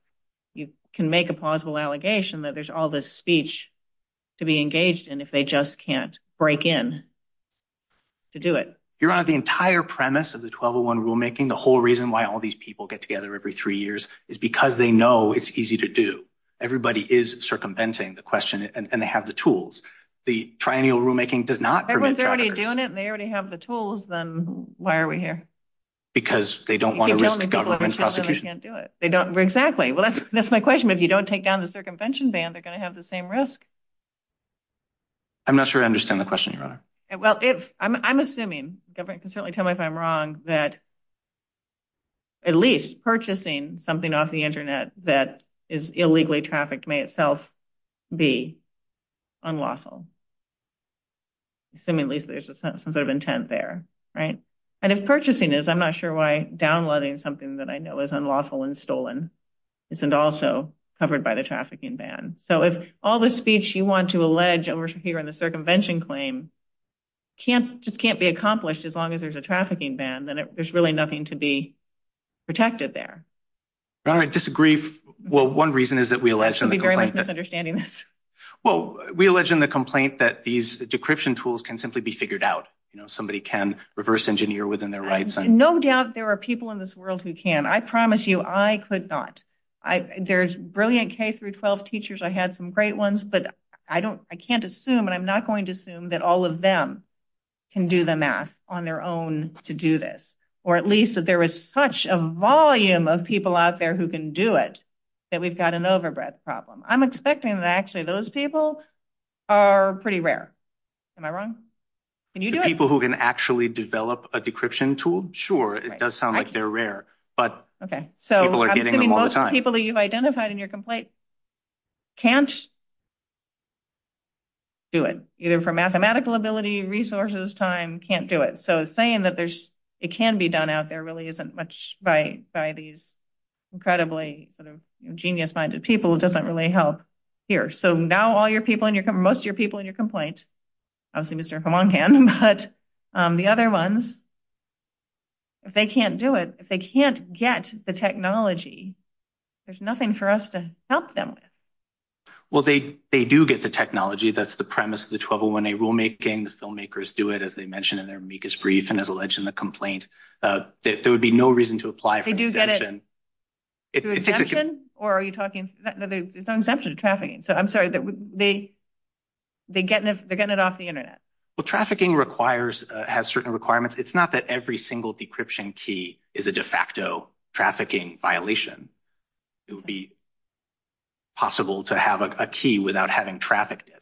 you can make a plausible allegation that there's all this speech to be engaged in if they just can't break in to do it. Your Honor, the entire premise of the 1201 rulemaking, the whole reason why all these people get together every three years, is because they know it's easy to do. Everybody is circumventing the question, and they have the tools. The triennial rulemaking does not prevent trafficking. Everyone's already doing it, and they already have the tools, then why are we here? Because they don't want to risk government prosecution. They can't do it. Exactly. That's my question. If you don't take down the circumvention ban, they're going to have the same risk. I'm not sure I understand the question, Your Honor. I'm assuming, government can certainly tell me if I'm wrong, that at least purchasing something off the internet that is illegally trafficked may itself be unlawful. Assuming at least there's some sort of intent there. And if purchasing is, I'm not sure why downloading something that I know is unlawful and stolen isn't also covered by the trafficking ban. So, if all the speech you want to allege, and we're here on the circumvention claim, just can't be accomplished as long as there's a trafficking ban, then there's really nothing to be protected there. Your Honor, I disagree. Well, one reason is that we allege... I'm very much misunderstanding this. Well, we allege in the complaint that these decryption tools can simply be figured out. You know, somebody can reverse engineer within their rights. No doubt there are people in this world who can. I promise you, I could not. There's brilliant K-12 teachers. I had some great ones, but I can't assume, and I'm not going to assume, that all of them can do the math on their own to do this. Or at least that there is such a volume of people out there who can do it, that we've got an overbreadth problem. I'm expecting that actually those people are pretty rare. Am I wrong? Can you do it? The people who can actually develop a decryption tool? Sure, it does sound like they're rare. But people are getting them all the time. Okay, so I'm thinking most people that you've identified in your complaint can't do it. Either for mathematical ability, resources, time, can't do it. So saying that it can be done out there really isn't much by these incredibly sort of genius-minded people. It doesn't really help here. So now all your people, most of your people in your complaint, obviously Mr. Hamon can, but the other ones, if they can't do it, if they can't get the technology, there's nothing for us to help them with. Well, they do get the technology. That's the premise of the 1201A rulemaking. The filmmakers do it, as they mention in their amicus brief and as alleged in the complaint. There would be no reason to apply for exemption. They do get it through exemption? Or are you talking, there's no exemption to trafficking. So I'm sorry, they're getting it off the internet. Well, trafficking has certain requirements. It's not that every single decryption key is a de facto trafficking violation. It would be possible to have a key without having trafficked it.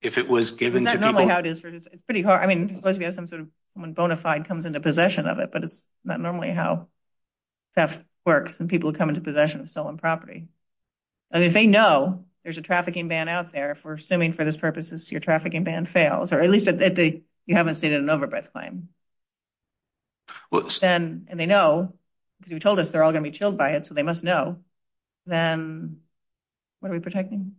If it was given to people. It's pretty hard. I mean, let's say someone bona fide comes into possession of it, but it's not normally how theft works when people come into possession of stolen property. And if they know there's a trafficking ban out there, if we're assuming for those purposes your trafficking ban fails, or at least if you haven't stated an overbid claim. And they know, because you told us they're all going to be killed by it, so they must know. Then what are we protecting?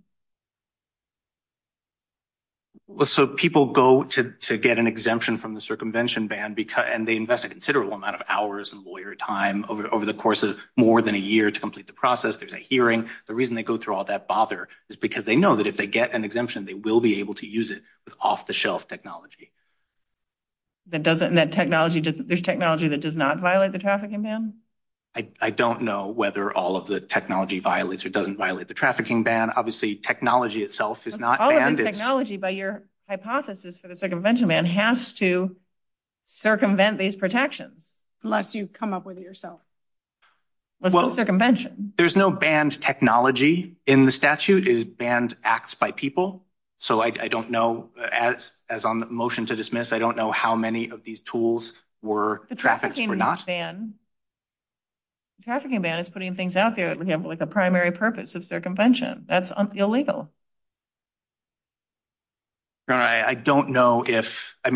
So people go to get an exemption from the circumvention ban, and they invest a considerable amount of hours and lawyer time over the course of more than a year to complete the process. There's a hearing. The reason they go through all that bother is because they know that if they get an exemption, they will be able to use it with off-the-shelf technology. There's technology that does not violate the trafficking ban? I don't know whether all of the technology violates or doesn't violate the trafficking ban. Obviously, technology itself is not. All of the technology, by your hypothesis for the circumvention ban, has to circumvent these protections, unless you come up with it yourself. Well, there's no banned technology in the statute. It is banned acts by people. So I don't know, as on the motion to dismiss, I don't know how many of these tools were trafficked or not. The trafficking ban is putting things out there, for example, with the primary purpose of circumvention. That's illegal.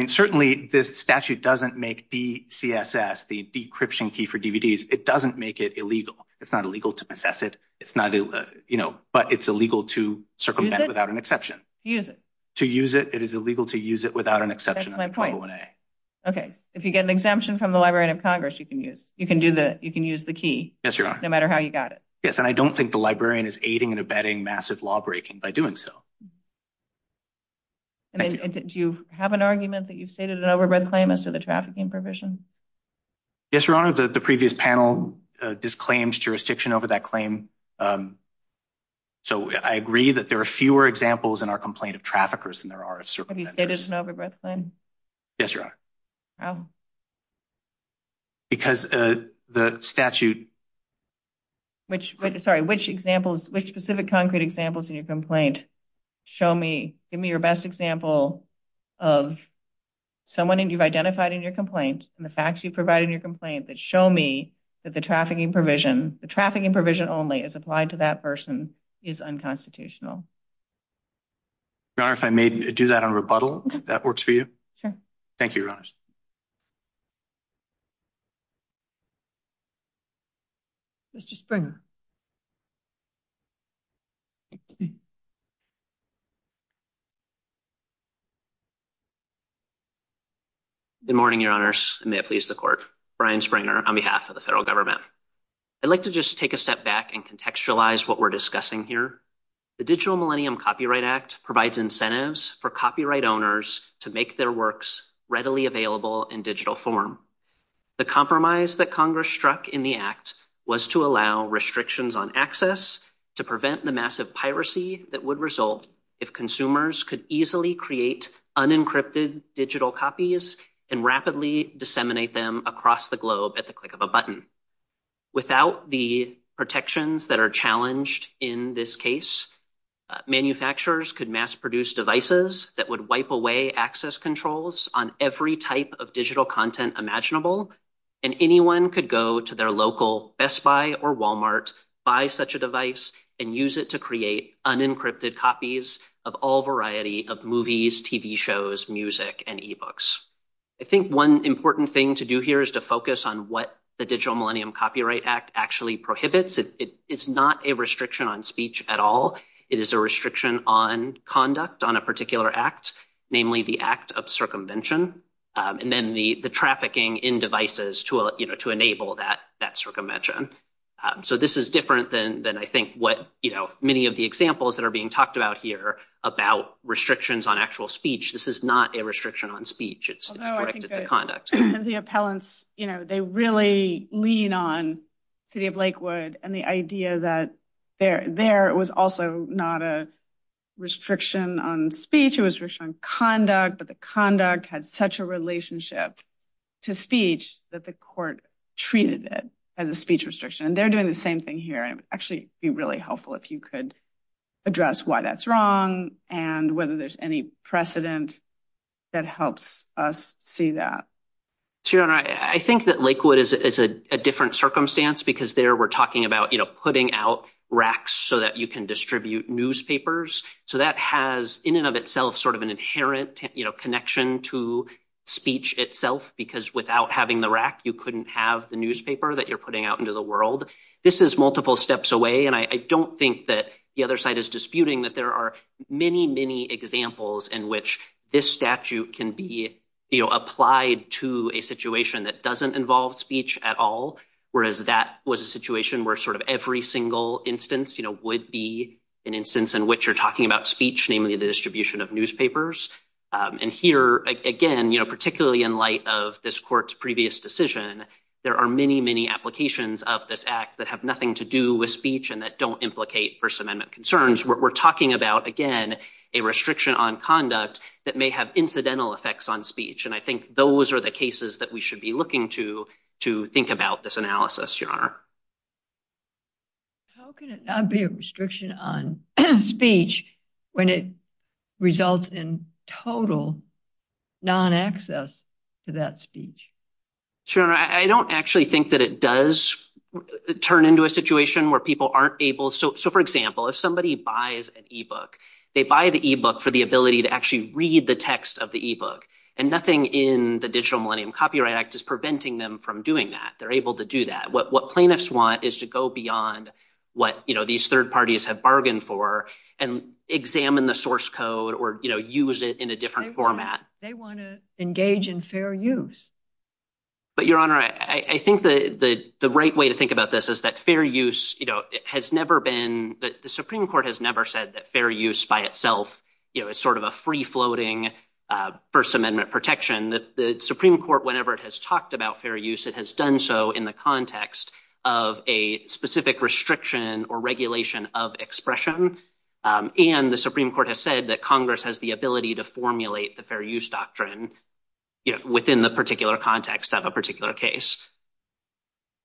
Certainly, this statute doesn't make DCSS, the decryption key for DVDs, it doesn't make it illegal. It's not illegal to possess it, but it's illegal to circumvent it without an exception. Use it. To use it, it is illegal to use it without an exception. That's my point. Okay. If you get an exemption from the Library of Congress, you can use the key, no matter how you got it. Yes, Your Honor. Yes, and I don't think the librarian is aiding and abetting massive lawbreaking by doing so. Do you have an argument that you've stated an overbred claim as to the trafficking provision? Yes, Your Honor. The previous panel disclaimed jurisdiction over that claim. So I agree that there are fewer examples in our complaint of traffickers than there are of circumventors. Have you stated an overbred claim? Yes, Your Honor. How? Because the statute... Sorry, which specific concrete examples in your complaint show me... Give me your best example of someone that you've identified in your complaint and the facts you provide in your complaint that show me that the trafficking provision, the trafficking provision only as applied to that person, is unconstitutional. Your Honor, if I may do that on rebuttal, if that works for you? Sure. Thank you, Your Honor. Mr. Springer. Good morning, Your Honors, and may it please the Court. Brian Springer on behalf of the federal government. I'd like to just take a step back and contextualize what we're discussing here. The Digital Millennium Copyright Act provides incentives for copyright owners to make their works readily available in digital form. The compromise that Congress struck in the act was to allow restrictions on access to prevent the massive piracy that would result if consumers could easily create unencrypted digital copies and rapidly disseminate them across the globe at the click of a button. Without the protections that are challenged in this case, manufacturers could mass-produce devices that would wipe away access controls on every type of digital content imaginable, and anyone could go to their local Best Buy or Walmart, buy such a device, and use it to create unencrypted copies of all variety of movies, TV shows, music, and e-books. I think one important thing to do here is to focus on what the Digital Millennium Copyright Act actually prohibits. It's not a restriction on speech at all. It is a restriction on conduct on a particular act, namely the act of circumvention, and then the trafficking in devices to enable that circumvention. So this is different than I think what many of the examples that are being talked about here about restrictions on actual speech. This is not a restriction on speech. It's a restriction on conduct. The appellants, you know, they really lean on City of Lakewood and the idea that there was also not a restriction on speech. It was a restriction on conduct, but the conduct had such a relationship to speech that the court treated it as a speech restriction. And they're doing the same thing here. It would actually be really helpful if you could address why that's wrong and whether there's any precedent that helps us see that. Sure. And I think that Lakewood is a different circumstance because there we're talking about, you know, putting out racks so that you can distribute newspapers. So that has in and of itself sort of an inherent, you know, connection to speech itself because without having the rack, you couldn't have the newspaper that you're putting out into the world. This is multiple steps away, and I don't think that the other side is disputing that there are many, many examples in which this statute can be, you know, applied to a situation that doesn't involve speech at all, whereas that was a situation where sort of every single instance, you know, would be an instance in which you're talking about speech, namely the distribution of newspapers. And here, again, you know, particularly in light of this court's previous decision, there are many, many applications of this act that have nothing to do with speech and that don't implicate First Amendment concerns. We're talking about, again, a restriction on conduct that may have incidental effects on speech, and I think those are the cases that we should be looking to think about this analysis, Your Honor. How can it not be a restriction on speech when it results in total non-access to that speech? Sure. I don't actually think that it does turn into a situation where people aren't able. So, for example, if somebody buys an e-book, they buy the e-book for the ability to actually read the text of the e-book, and nothing in the Digital Millennium Copyright Act is preventing them from doing that. They're able to do that. What plaintiffs want is to go beyond what, you know, these third parties have bargained for and examine the source code or, you know, use it in a different format. They want to engage in fair use. But, Your Honor, I think the right way to think about this is that fair use, you know, has never been – the Supreme Court has never said that fair use by itself, you know, is sort of a free-floating First Amendment protection. The Supreme Court, whenever it has talked about fair use, it has done so in the context of a specific restriction or regulation of expression, and the Supreme Court has said that Congress has the ability to formulate the fair use doctrine, you know, within the particular context of a particular case.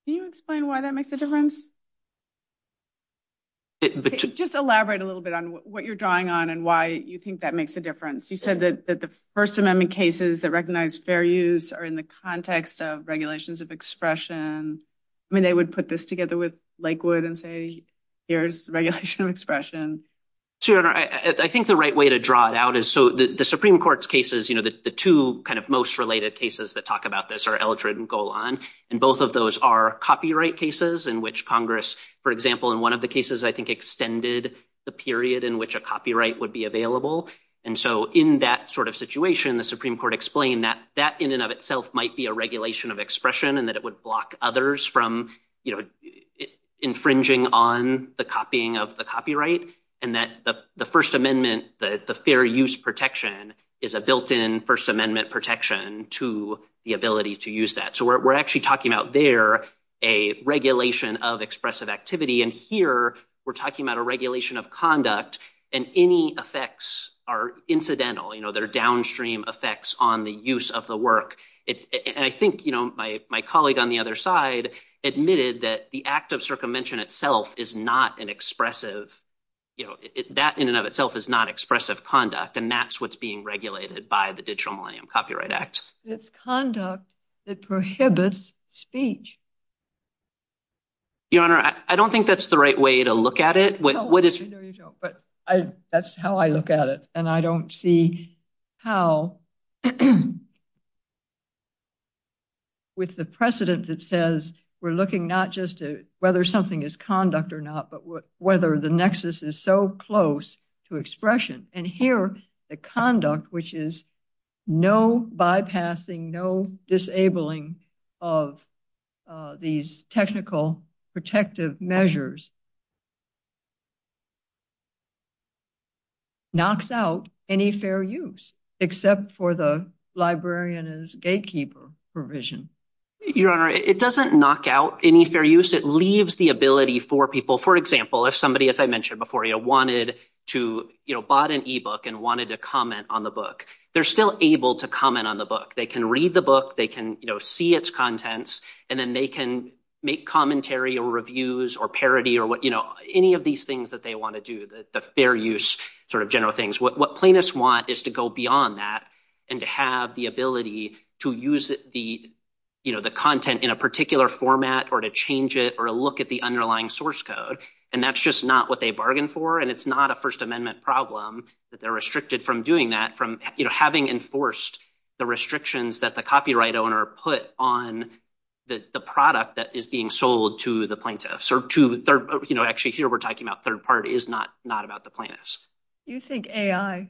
Can you explain why that makes a difference? Just elaborate a little bit on what you're drawing on and why you think that makes a difference. You said that the First Amendment cases that recognize fair use are in the context of regulations of expression. I mean, they would put this together with Lakewood and say, here's regulation of expression. So, Your Honor, I think the right way to draw it out is so the Supreme Court's cases, you know, the two kind of most related cases that talk about this are Eldred and Golan, and both of those are copyright cases in which Congress, for example, in one of the cases I think extended the period in which a copyright would be available. And so in that sort of situation, the Supreme Court explained that that in and of itself might be a regulation of expression and that it would block others from, you know, infringing on the copying of the copyright and that the First Amendment, the fair use protection is a built-in First Amendment protection to the ability to use that. So we're actually talking about there a regulation of expressive activity. And here we're talking about a regulation of conduct and any effects are incidental. You know, there are downstream effects on the use of the work. And I think, you know, my colleague on the other side admitted that the act of circumvention in itself is not an expressive, you know, that in and of itself is not expressive conduct and that's what's being regulated by the Digital Millennium Copyright Act. It's conduct that prohibits speech. Your Honor, I don't think that's the right way to look at it. That's how I look at it and I don't see how with the precedent that says we're looking not just at whether something is conduct or not but whether the nexus is so close to expression. And here the conduct, which is no bypassing, no disabling of these technical protective measures, knocks out any fair use except for the librarian as gatekeeper provision. Your Honor, it doesn't knock out any fair use. It leaves the ability for people, for example, if somebody, as I mentioned before, wanted to, you know, bought an e-book and wanted to comment on the book, they're still able to comment on the book. They can read the book. They can, you know, see its contents. And then they can make commentary or reviews or parody or, you know, any of these things that they want to do, the fair use sort of general things. What plaintiffs want is to go beyond that and to have the ability to use the, you know, the content in a particular format or to change it or look at the underlying source code. And that's just not what they bargained for and it's not a First Amendment problem that they're restricted from doing that from, you know, having enforced the restrictions that the copyright owner put on the product that is being sold to the plaintiffs or to, you know, actually here we're talking about third party is not about the plaintiffs. Do you think AI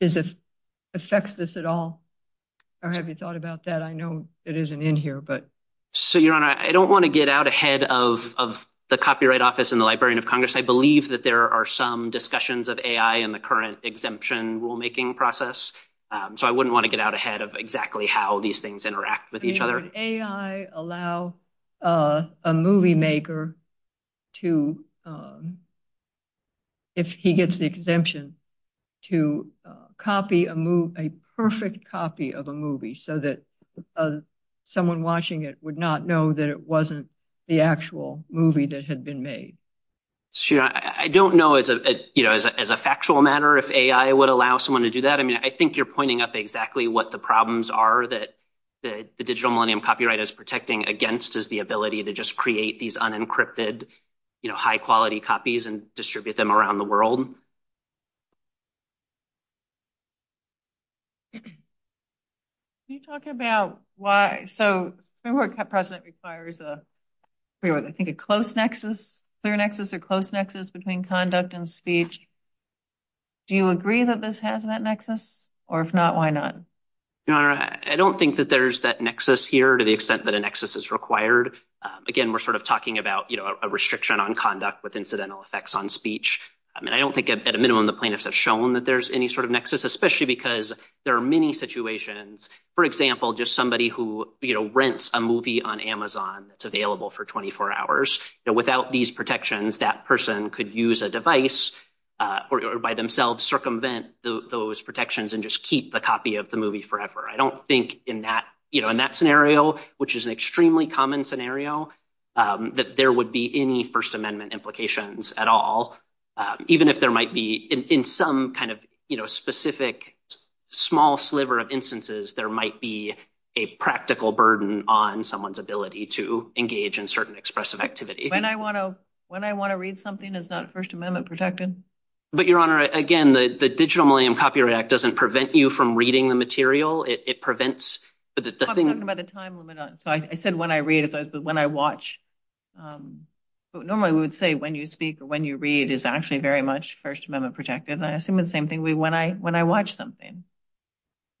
is a sexist at all or have you thought about that? I know it isn't in here, but. So, Your Honor, I don't want to get out ahead of the Copyright Office and the Librarian of Congress. I believe that there are some discussions of AI in the current exemption rulemaking process. So, I wouldn't want to get out ahead of exactly how these things interact with each other. Would AI allow a movie maker to, if he gets the exemption, to copy a perfect copy of a movie so that someone watching it would not know that it wasn't the actual movie that had been made? I don't know as a factual matter if AI would allow someone to do that. I mean, I think you're pointing up exactly what the problems are that the Digital Millennium Copyright is protecting against is the ability to just create these unencrypted, you know, high quality copies and distribute them around the world. Can you talk about why? So, Fair Work President requires a, I think a close nexus, clear nexus or close nexus between conduct and speech. Do you agree that this has that nexus? Or if not, why not? I don't think that there's that nexus here to the extent that a nexus is required. Again, we're sort of talking about, you know, a restriction on conduct with incidental effects on speech. I mean, I don't think at a minimum the plaintiffs have shown that there's any sort of nexus, especially because there are many situations. For example, just somebody who, you know, rents a movie on Amazon. It's available for 24 hours. Without these protections, that person could use a device or by themselves circumvent those protections and just keep the copy of the movie forever. I don't think in that, you know, in that scenario, which is an extremely common scenario, that there would be any First Amendment implications at all. Even if there might be in some kind of, you know, specific small sliver of instances, there might be a practical burden on someone's ability to engage in certain expressive activity. When I want to read something that's not First Amendment protected? But, Your Honor, again, the Digital Millennium Copyright Act doesn't prevent you from reading the material. It prevents. I'm talking about the time limit. I said when I read it, but when I watch. Normally we would say when you speak or when you read is actually very much First Amendment protected. I assume the same thing when I watch something.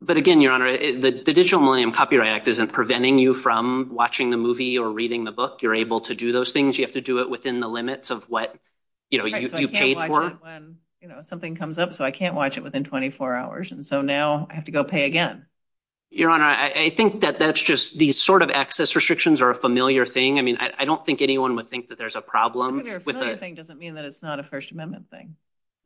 But, again, Your Honor, the Digital Millennium Copyright Act isn't preventing you from watching the movie or reading the book. You're able to do those things. You have to do it within the limits of what, you know, you paid for. I can't watch it when, you know, something comes up. So I can't watch it within 24 hours. And so now I have to go pay again. Your Honor, I think that that's just the sort of access restrictions are a familiar thing. I mean, I don't think anyone would think that there's a problem. A familiar thing doesn't mean that it's not a First Amendment thing.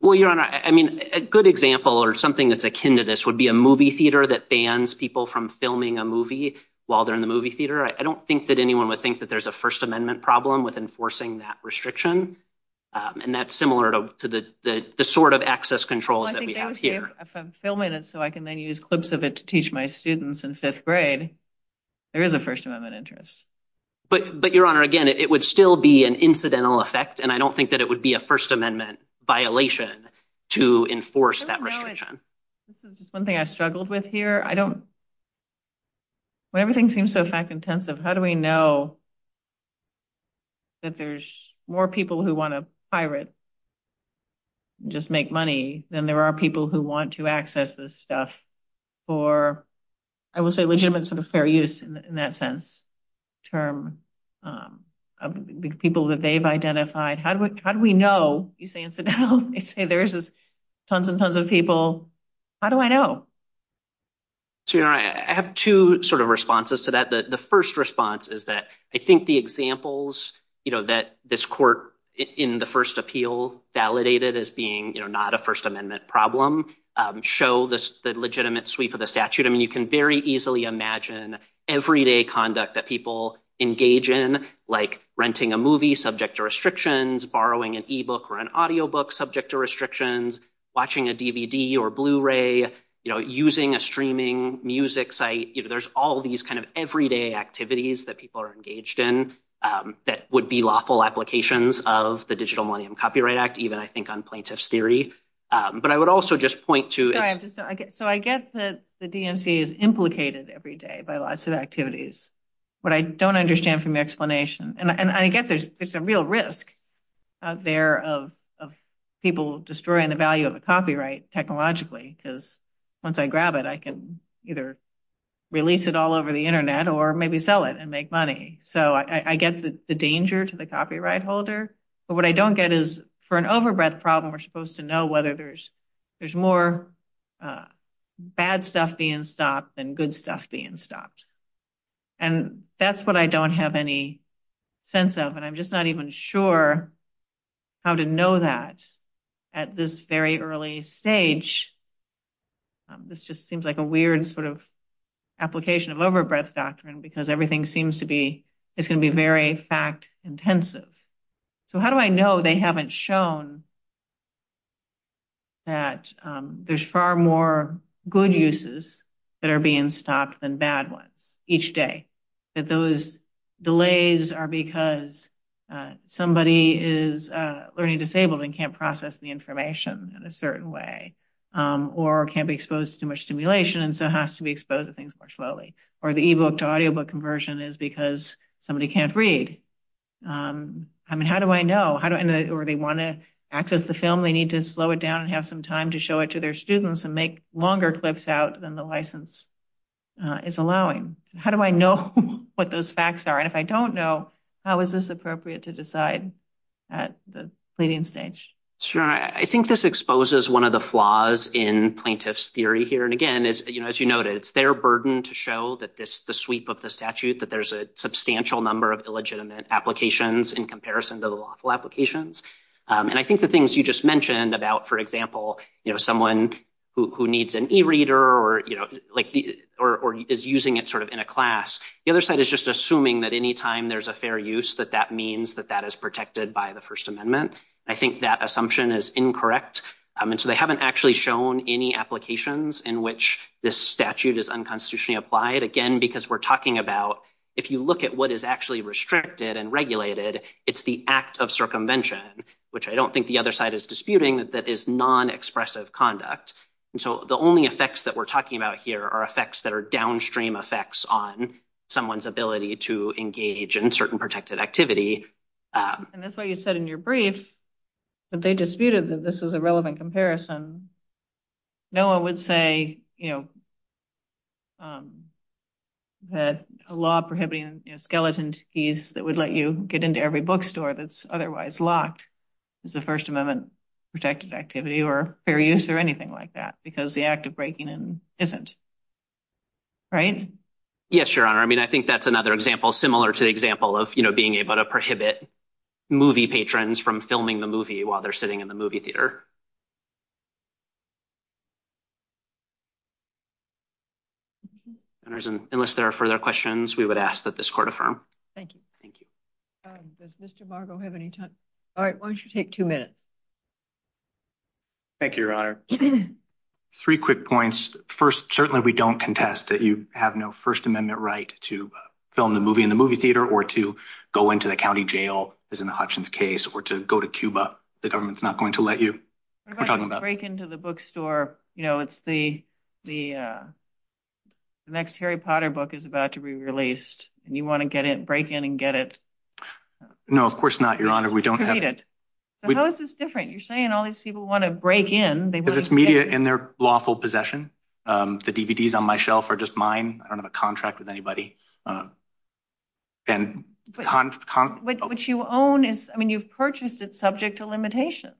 Well, Your Honor, I mean, a good example or something that's akin to this would be a movie theater that bans people from filming a movie while they're in the movie theater. I don't think that anyone would think that there's a First Amendment problem with enforcing that restriction. And that's similar to the sort of access control that we have here. Well, I think if I'm filming it so I can then use clips of it to teach my students in fifth grade, there is a First Amendment interest. But, Your Honor, again, it would still be an incidental effect, and I don't think that it would be a First Amendment violation to enforce that restriction. This is something I struggled with here. Well, everything seems so fact-intensive. How do we know that there's more people who want to pirate and just make money than there are people who want to access this stuff for, I would say, legitimate sort of fair use in that sense, people that they've identified. How do we know? You say incidental. You say there's tons and tons of people. How do I know? So, Your Honor, I have two sort of responses to that. The first response is that I think the examples that this court in the first appeal validated as being not a First Amendment problem show the legitimate sweep of the statute. I mean, you can very easily imagine everyday conduct that people engage in, like renting a movie subject to restrictions, borrowing an e-book or an audio book subject to restrictions, watching a DVD or Blu-ray, using a streaming music site. There's all these kind of everyday activities that people are engaged in that would be lawful applications of the Digital Millennium Copyright Act, even, I think, on plain-touch theory. But I would also just point to – So, I guess the DNC is implicated every day by lots of activities. What I don't understand from your explanation – And I guess there's a real risk out there of people destroying the value of a copyright, technologically, because once I grab it, I can either release it all over the Internet or maybe sell it and make money. So, I guess it's the danger to the copyright holder. But what I don't get is, for an overbreadth problem, we're supposed to know whether there's more bad stuff being stopped than good stuff being stopped. And that's what I don't have any sense of, and I'm just not even sure how to know that at this very early stage. This just seems like a weird sort of application of overbreadth doctrine because everything seems to be – it's going to be very fact-intensive. So, how do I know they haven't shown that there's far more good uses that are being stopped than bad ones each day? That those delays are because somebody is learning disabled and can't process the information in a certain way or can't be exposed to too much stimulation and so has to be exposed to things more slowly. Or the e-book to audio book conversion is because somebody can't read. I mean, how do I know? Or they want to access the film, they need to slow it down and have some time to show it to their students and make longer clips out than the license is allowing. How do I know what those facts are? And if I don't know, how is this appropriate to decide at the pleading stage? Sure. I think this exposes one of the flaws in plaintiff's theory here. And again, as you noted, it's their burden to show that this is the sweep of the statute, that there's a substantial number of illegitimate applications in comparison to the lawful applications. And I think the things you just mentioned about, for example, someone who needs an e-reader or is using it sort of in a class, the other side is just assuming that any time there's a fair use, that that means that that is protected by the First Amendment. I think that assumption is incorrect. And so they haven't actually shown any applications in which this statute is unconstitutionally applied. Again, because we're talking about if you look at what is actually restricted and regulated, it's the act of circumvention, which I don't think the other side is disputing, that is non-expressive conduct. And so the only effects that we're talking about here are effects that are downstream effects on someone's ability to engage in certain protected activity. And that's why you said in your brief that they disputed that this was a relevant comparison. No one would say that a law prohibiting skeleton keys that would let you get into every bookstore that's otherwise locked is a First Amendment protected activity or fair use or anything like that because the act of breaking in isn't. Right? Yes, Your Honor. I mean, I think that's another example similar to the example of being able to prohibit movie patrons from filming the movie while they're sitting in the movie theater. Unless there are further questions, we would ask that this court affirm. Thank you. Thank you. Does Mr. Margo have any time? All right, why don't you take two minutes. Thank you, Your Honor. Three quick points. First, certainly we don't contest that you have no First Amendment right to film the movie in the movie theater or to go into the county jail, as in the Hutchins case, or to go to Cuba. The government's not going to let you. What about the break-in to the bookstore? You know, it's the next Harry Potter book is about to be released, and you want to break in and get it. No, of course not, Your Honor. We don't have it. How is this different? You're saying all these people want to break in. It's media in their lawful possession. The DVDs on my shelf are just mine. I don't have a contract with anybody. What you own is – I mean, you've purchased it subject to limitations.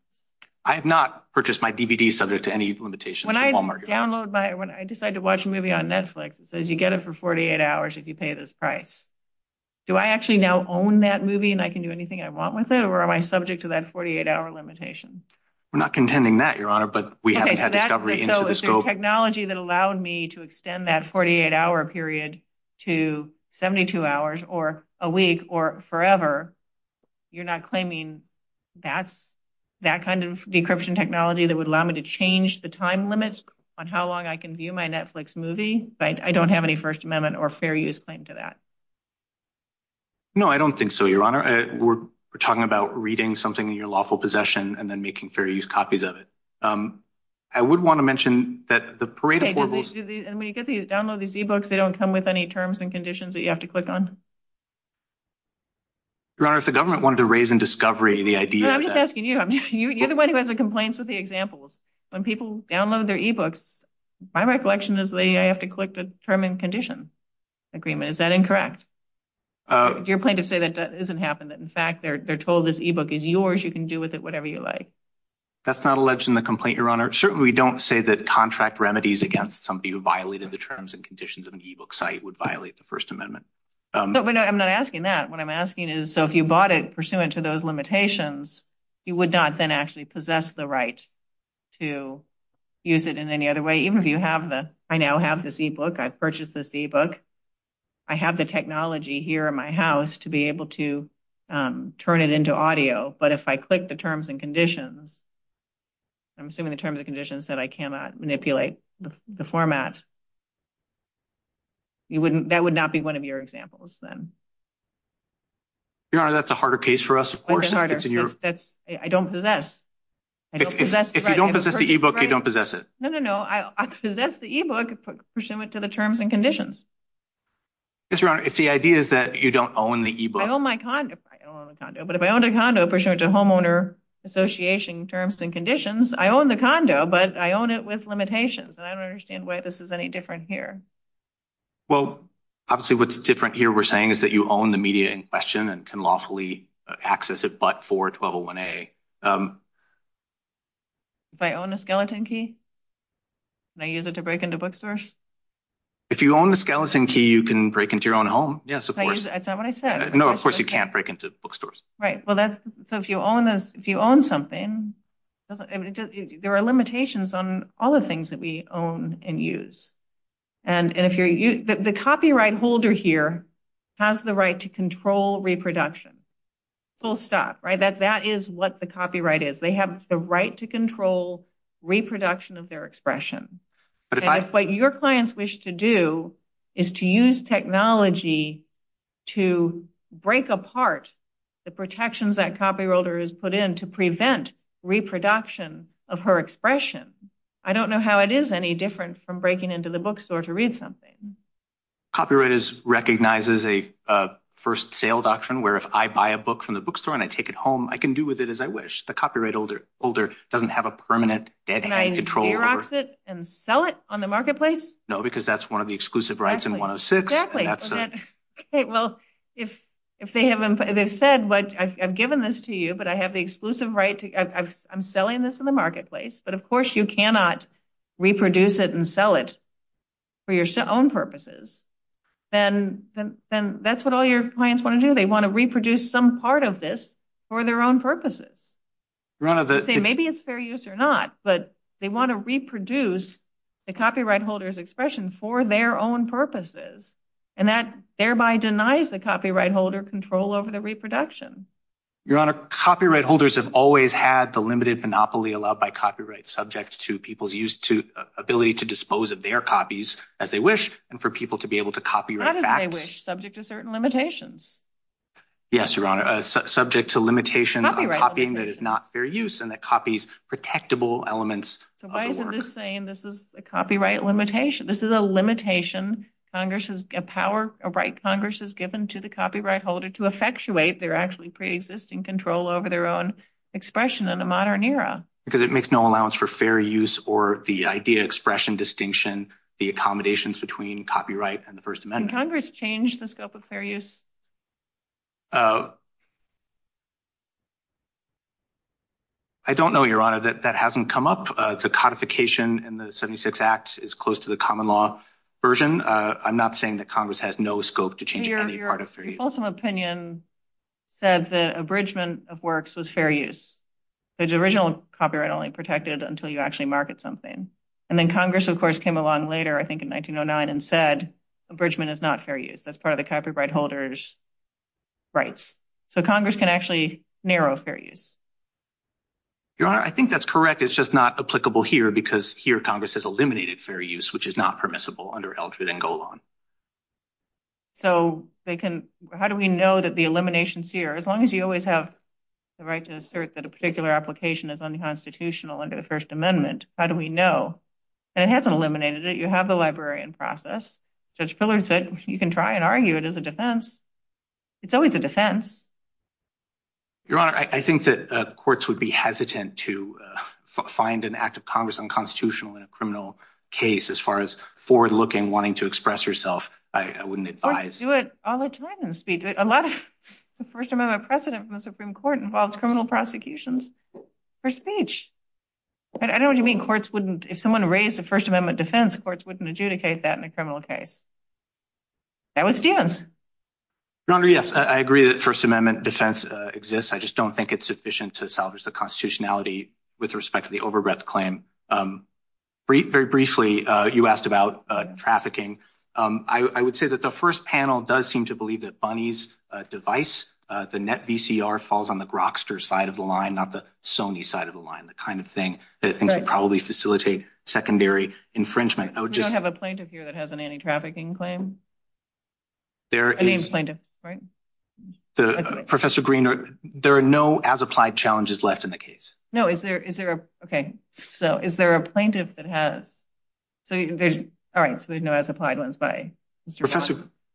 I have not purchased my DVDs subject to any limitations. When I download my – when I decide to watch a movie on Netflix, it says you get it for 48 hours if you pay this price. Do I actually now own that movie and I can do anything I want with it, or am I subject to that 48-hour limitation? We're not contending that, Your Honor, but we haven't had discovery. So it's a technology that allowed me to extend that 48-hour period to 72 hours or a week or forever. You're not claiming that kind of decryption technology that would allow me to change the time limits on how long I can view my Netflix movie? I don't have any First Amendment or fair use claim to that. No, I don't think so, Your Honor. We're talking about reading something in your lawful possession and then making fair use copies of it. I would want to mention that the Parade of Horribles – When you download these e-books, they don't come with any terms and conditions that you have to click on? Your Honor, if the government wanted to raise in discovery the idea – I'm just asking you. You're the one who has the complaints with the examples. When people download their e-books, my recollection is they have to click the term and condition agreement. Is that incorrect? Do you plan to say that that doesn't happen, that, in fact, they're told this e-book is yours, you can do with it whatever you like? That's not alleged in the complaint, Your Honor. Certainly, we don't say that contract remedies against somebody who violated the terms and conditions of an e-book site would violate the First Amendment. But I'm not asking that. What I'm asking is, so if you bought it pursuant to those limitations, you would not then actually possess the right to use it in any other way? Even if you have the – I now have this e-book. I purchased this e-book. I have the technology here in my house to be able to turn it into audio. But if I click the terms and conditions, I'm assuming the terms and conditions that I cannot manipulate the format, that would not be one of your examples then. Your Honor, that's a harder case for us. I don't possess. If you don't possess the e-book, you don't possess it. No, no, no. I possess the e-book pursuant to the terms and conditions. If the idea is that you don't own the e-book. I own my condo. I own my condo. But if I owned a condo pursuant to homeowner association terms and conditions, I own the condo, but I own it with limitations. And I don't understand why this is any different here. Well, obviously what's different here we're saying is that you own the media in question and can lawfully access it but for 1201A. If I own a skeleton key, can I use it to break into bookstores? If you own a skeleton key, you can break into your own home. Yes, of course. That's not what I said. No, of course you can't break into bookstores. Right. So if you own something, there are limitations on all the things that we own and use. The copyright holder here has the right to control reproduction. Full stop. That is what the copyright is. They have the right to control reproduction of their expression. What your clients wish to do is to use technology to break apart the protections that copywriters put in to prevent reproduction of her expression. I don't know how it is any different from breaking into the bookstore to read something. Copyright recognizes a first sale doctrine where if I buy a book from the bookstore and I take it home, I can do with it as I wish. Can I reproduce it and sell it on the marketplace? No, because that's one of the exclusive rights in 106. Exactly. They said, I've given this to you, but I have the exclusive right. I'm selling this in the marketplace. But of course you cannot reproduce it and sell it for your own purposes. Then that's what all your clients want to do. They want to reproduce some part of this for their own purposes. Maybe it's fair use or not, but they want to reproduce the copyright holder's expression for their own purposes, and that thereby denies the copyright holder control over the reproduction. Your Honor, copyright holders have always had the limited monopoly allowed by copyright subject to people's ability to dispose of their copies as they wish and for people to be able to copyright facts. Not as they wish, subject to certain limitations. Yes, Your Honor, subject to limitations of copying that is not fair use and that copies protectable elements of the work. Why is this saying this is a copyright limitation? This is a limitation Congress has given to the copyright holder to effectuate their actually pre-existing control over their own expression in the modern era. Because it makes no allowance for fair use or the idea, expression, distinction, the accommodations between copyright and the First Amendment. Has Congress changed the scope of fair use? I don't know, Your Honor. That hasn't come up. The codification in the 76 Act is close to the common law version. I'm not saying that Congress has no scope to change any part of fair use. Your opinion said that abridgment of works was fair use. The original copyright only protected until you actually market something. And then Congress, of course, came along later, I think in 1909, and said abridgment is not fair use. That's part of the copyright holder's rights. So Congress can actually narrow fair use. Your Honor, I think that's correct. It's just not applicable here because here Congress has eliminated fair use, which is not permissible under Eldred and Golan. So how do we know that the elimination is here? As long as you always have the right to assert that a particular application is unconstitutional under the First Amendment, how do we know? And it hasn't eliminated it. You have the librarian process. Judge Pillard said you can try and argue it as a defense. It's always a defense. Your Honor, I think that courts would be hesitant to find an act of Congress unconstitutional in a criminal case as far as forward-looking, wanting to express yourself. I wouldn't advise. Courts do it all the time in the speech. A lot of the First Amendment precedent from the Supreme Court involves criminal prosecutions for speech. I don't know what you mean courts wouldn't. If someone raised a First Amendment defense, courts wouldn't adjudicate that in a criminal case. That was Dan's. Your Honor, yes, I agree that First Amendment defense exists. I just don't think it's sufficient to salvage the constitutionality with respect to the over-breath claim. Very briefly, you asked about trafficking. I would say that the first panel does seem to believe that Bunny's device, the NetVCR, falls on the Grokster side of the line, not the Sony side of the line, the kind of thing that can probably facilitate secondary infringement. We don't have a plaintiff here that has an anti-trafficking claim? I mean plaintiff, right? Professor Green, there are no as-applied challenges left in the case. No, is there a plaintiff that has? All right, so there's no as-applied ones.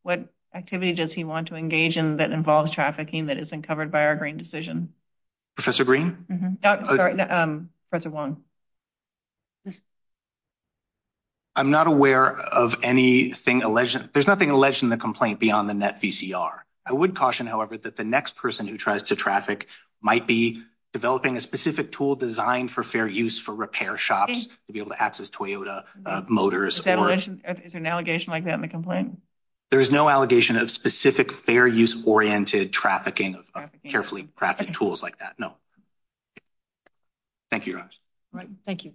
What activity does he want to engage in that involves trafficking that isn't covered by our Green decision? Professor Green? Sorry, Professor Wong. I'm not aware of anything alleged. There's nothing alleged in the complaint beyond the NetVCR. I would caution, however, that the next person who tries to traffic might be developing a specific tool designed for fair use for repair shops to be able to access Toyota motors. Is there an allegation like that in the complaint? There is no allegation of specific fair use oriented trafficking, carefully crafted tools like that. No. Thank you. Thank you.